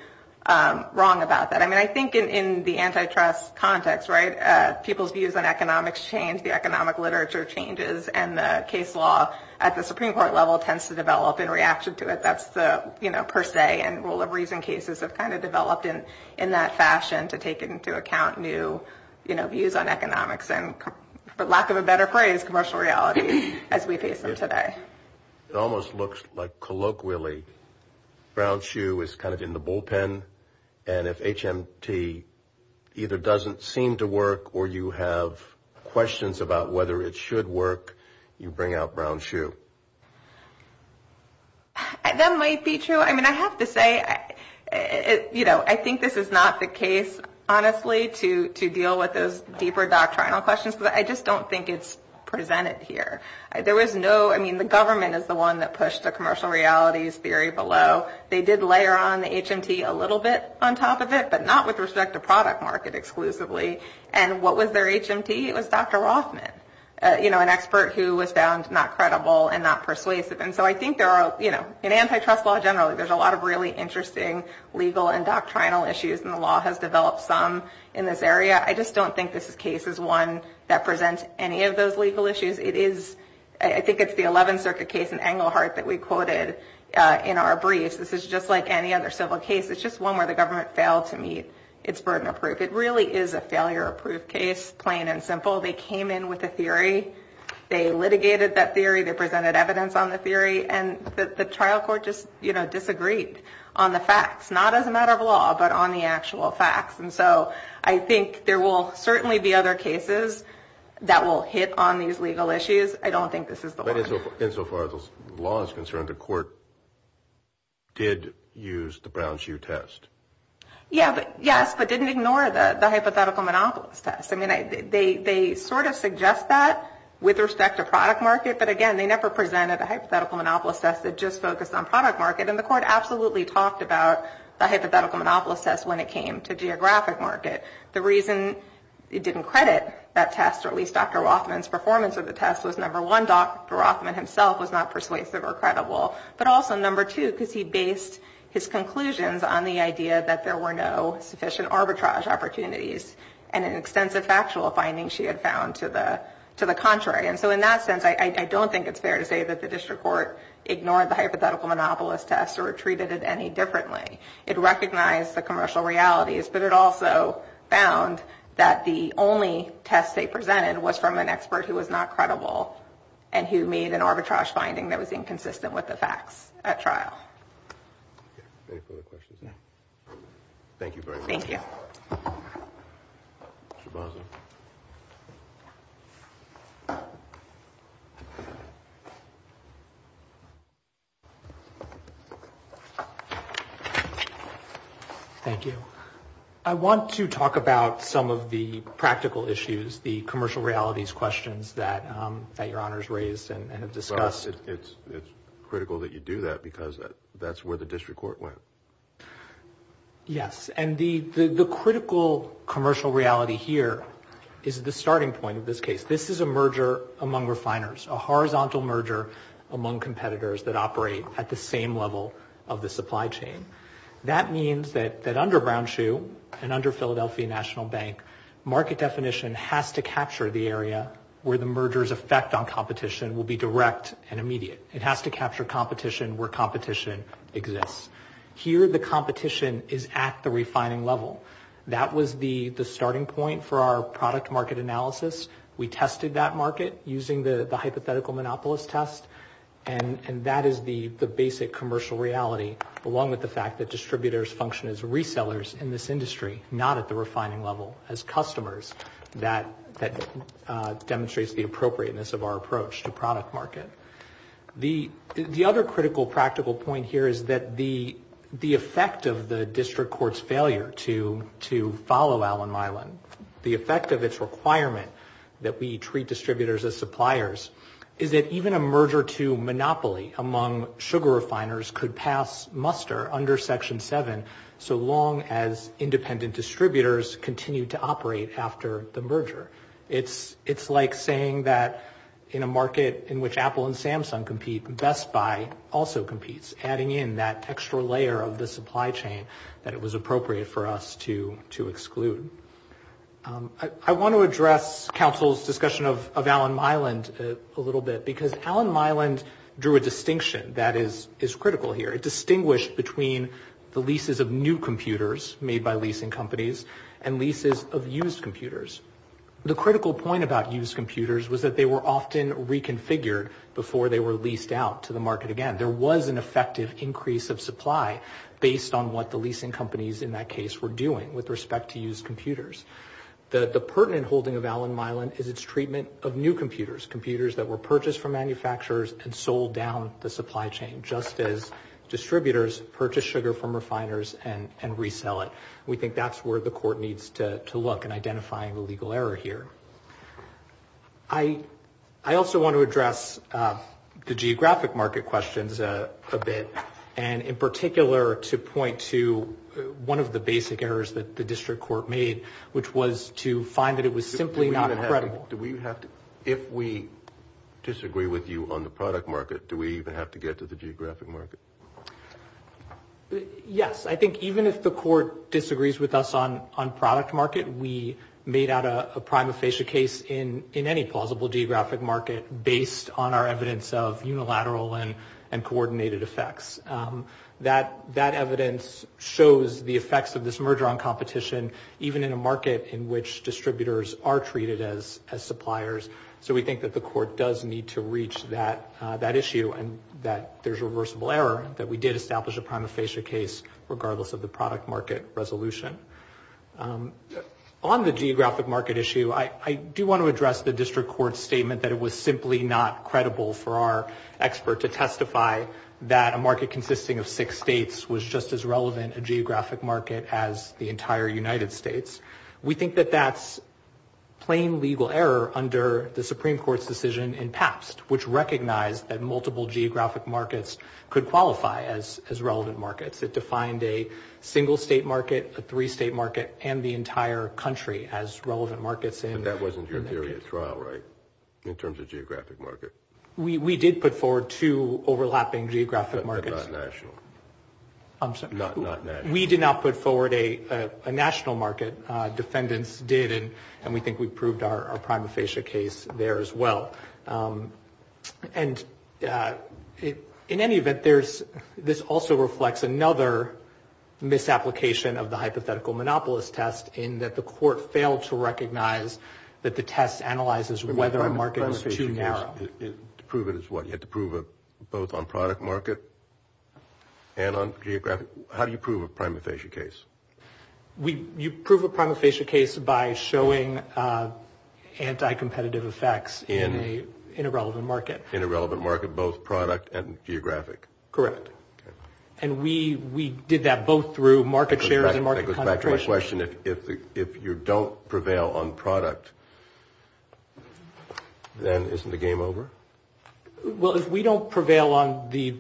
wrong about that. I mean, I think in the antitrust context, right, people's views on economics change, the economic literature changes, and the case law at the Supreme Court level tends to develop in reaction to it. That's the, you know, per se and rule of reason cases have kind of developed in that fashion to take into account new, you know, views on economics and, for lack of a better phrase, commercial realities as we face them today. It almost looks like, colloquially, brown shoe is kind of in the bullpen, and if HMT either doesn't seem to work or you have questions about whether it should work, you bring out brown shoe. That might be true. I mean, I have to say, you know, I think this is not the case, honestly, to deal with those deeper doctrinal questions because I just don't think it's presented here. There was no, I mean, the government is the one that pushed the commercial realities theory below. They did layer on the HMT a little bit on top of it, but not with respect to product market exclusively. And what was their HMT? It was Dr. Rothman, you know, an expert who was found not credible and not persuasive. And so I think there are, you know, in antitrust law generally, there's a lot of really interesting legal and doctrinal issues, and the law has developed some in this area. I just don't think this case is one that presents any of those legal issues. It is, I think it's the 11th Circuit case in Englehart that we quoted in our briefs. This is just like any other civil case. It's just one where the government failed to meet its burden of proof. It really is a failure of proof case, plain and simple. They came in with a theory. They litigated that theory. They presented evidence on the theory, and the trial court just, you know, And so I think there will certainly be other cases that will hit on these legal issues. I don't think this is the one. But insofar as the law is concerned, the court did use the Brown-Hsu test. Yeah, but yes, but didn't ignore the hypothetical monopolist test. I mean, they sort of suggest that with respect to product market, but again, they never presented a hypothetical monopolist test that just focused on product market. And the court absolutely talked about the hypothetical monopolist test when it came to geographic market. The reason it didn't credit that test, or at least Dr. Rothman's performance of the test, was, number one, Dr. Rothman himself was not persuasive or credible, but also, number two, because he based his conclusions on the idea that there were no sufficient arbitrage opportunities and an extensive factual finding she had found to the contrary. And so in that sense, I don't think it's fair to say that the district court ignored the hypothetical monopolist test or treated it any differently. It recognized the commercial realities, but it also found that the only test they presented was from an expert who was not credible and who made an arbitrage finding that was inconsistent with the facts at trial. Any further questions? Thank you very much. Thank you. Shabazza. Thank you. I want to talk about some of the practical issues, the commercial realities questions that your honors raised and have discussed. Well, it's critical that you do that because that's where the district court went. Yes, and the critical commercial reality here is the starting point of this case. This is a merger among refiners, a horizontal merger among competitors that operate at the same level of the supply chain. That means that under Brown Shoe and under Philadelphia National Bank, market definition has to capture the area where the merger's effect on competition will be direct and immediate. It has to capture competition where competition exists. Here the competition is at the refining level. That was the starting point for our product market analysis. We tested that market using the hypothetical monopolist test, and that is the basic commercial reality, along with the fact that distributors function as resellers in this industry, not at the refining level as customers. That demonstrates the appropriateness of our approach to product market. The other critical practical point here is that the effect of the district court's failure to follow Allen Milan, the effect of its requirement that we treat distributors as suppliers, is that even a merger to monopoly among sugar refiners could pass muster under Section 7 so long as independent distributors continue to operate after the merger. It's like saying that in a market in which Apple and Samsung compete, Best Buy also competes, adding in that extra layer of the supply chain that it was appropriate for us to exclude. I want to address counsel's discussion of Allen Milan a little bit, because Allen Milan drew a distinction that is critical here. It distinguished between the leases of new computers made by leasing companies and leases of used computers. The critical point about used computers was that they were often reconfigured before they were leased out to the market again. There was an effective increase of supply based on what the leasing companies in that case were doing with respect to used computers. The pertinent holding of Allen Milan is its treatment of new computers, computers that were purchased from manufacturers and sold down the supply chain, just as distributors purchase sugar from refiners and resell it. We think that's where the court needs to look in identifying the legal error here. I also want to address the geographic market questions a bit, and in particular to point to one of the basic errors that the district court made, which was to find that it was simply not credible. If we disagree with you on the product market, do we even have to get to the geographic market? Yes. I think even if the court disagrees with us on product market, we made out a prima facie case in any plausible geographic market based on our evidence of unilateral and coordinated effects. That evidence shows the effects of this merger on competition, even in a market in which distributors are treated as suppliers. So we think that the court does need to reach that issue, and that there's reversible error that we did establish a prima facie case, regardless of the product market resolution. On the geographic market issue, I do want to address the district court's statement that it was simply not credible for our expert to testify that a market consisting of six states was just as relevant a geographic market as the entire United States. We think that that's plain legal error under the Supreme Court's decision in past, which recognized that multiple geographic markets could qualify as relevant markets. It defined a single state market, a three state market, and the entire country as relevant markets. But that wasn't your theory of trial, right, in terms of geographic market? We did put forward two overlapping geographic markets. But not national. I'm sorry. Not national. We did not put forward a national market. Defendants did, and we think we proved our prima facie case there as well. And in any event, this also reflects another misapplication of the hypothetical monopolist test in that the court failed to recognize that the test analyzes whether a market was too narrow. To prove it as what? You had to prove it both on product market and on geographic? How do you prove a prima facie case? You prove a prima facie case by showing anti-competitive effects in a relevant market. In a relevant market, both product and geographic. Correct. And we did that both through market shares and market concentration. That goes back to my question. If you don't prevail on product, then isn't the game over? Well, if we don't prevail on the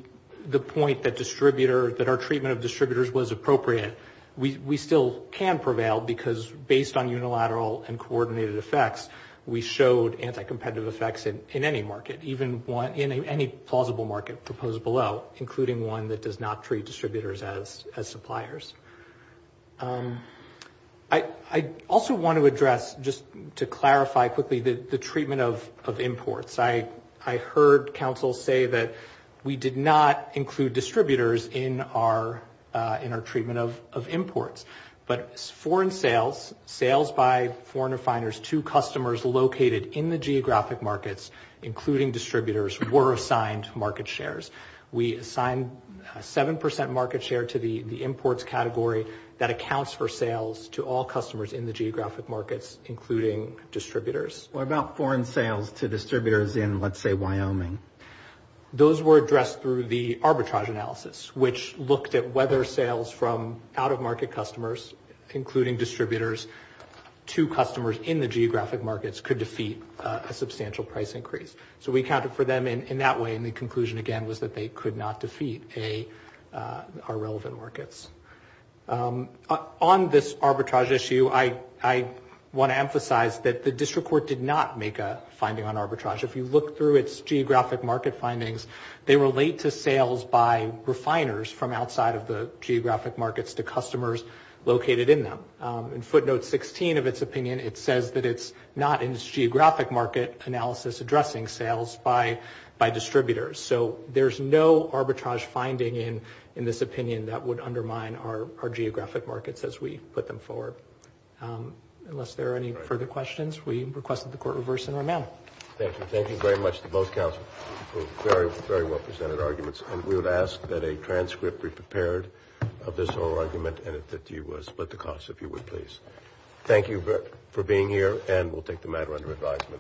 point that our treatment of distributors was appropriate, we still can prevail because based on unilateral and coordinated effects, we showed anti-competitive effects in any market, even in any plausible market proposed below, including one that does not treat distributors as suppliers. I also want to address, just to clarify quickly, the treatment of imports. I heard counsel say that we did not include distributors in our treatment of imports, but foreign sales, sales by foreign refiners to customers located in the geographic markets, including distributors, were assigned market shares. We assigned a 7% market share to the imports category that accounts for sales to all customers in the geographic markets, including distributors. What about foreign sales to distributors in, let's say, Wyoming? Those were addressed through the arbitrage analysis, which looked at whether sales from out-of-market customers, including distributors, to customers in the geographic markets could defeat a substantial price increase. So we accounted for them in that way, and the conclusion, again, was that they could not defeat our relevant markets. On this arbitrage issue, I want to emphasize that the district court did not make a finding on arbitrage. If you look through its geographic market findings, they relate to sales by refiners from outside of the geographic markets to customers located in them. In footnote 16 of its opinion, it says that it's not in its geographic market analysis addressing sales by distributors. So there's no arbitrage finding in this opinion that would undermine our geographic markets as we put them forward. Unless there are any further questions, we request that the court reverse and run now. Thank you. Thank you very much to both counsels for very, very well-presented arguments. And we would ask that a transcript be prepared of this whole argument, and that you would split the costs, if you would, please. Thank you for being here, and we'll take the matter under advisement.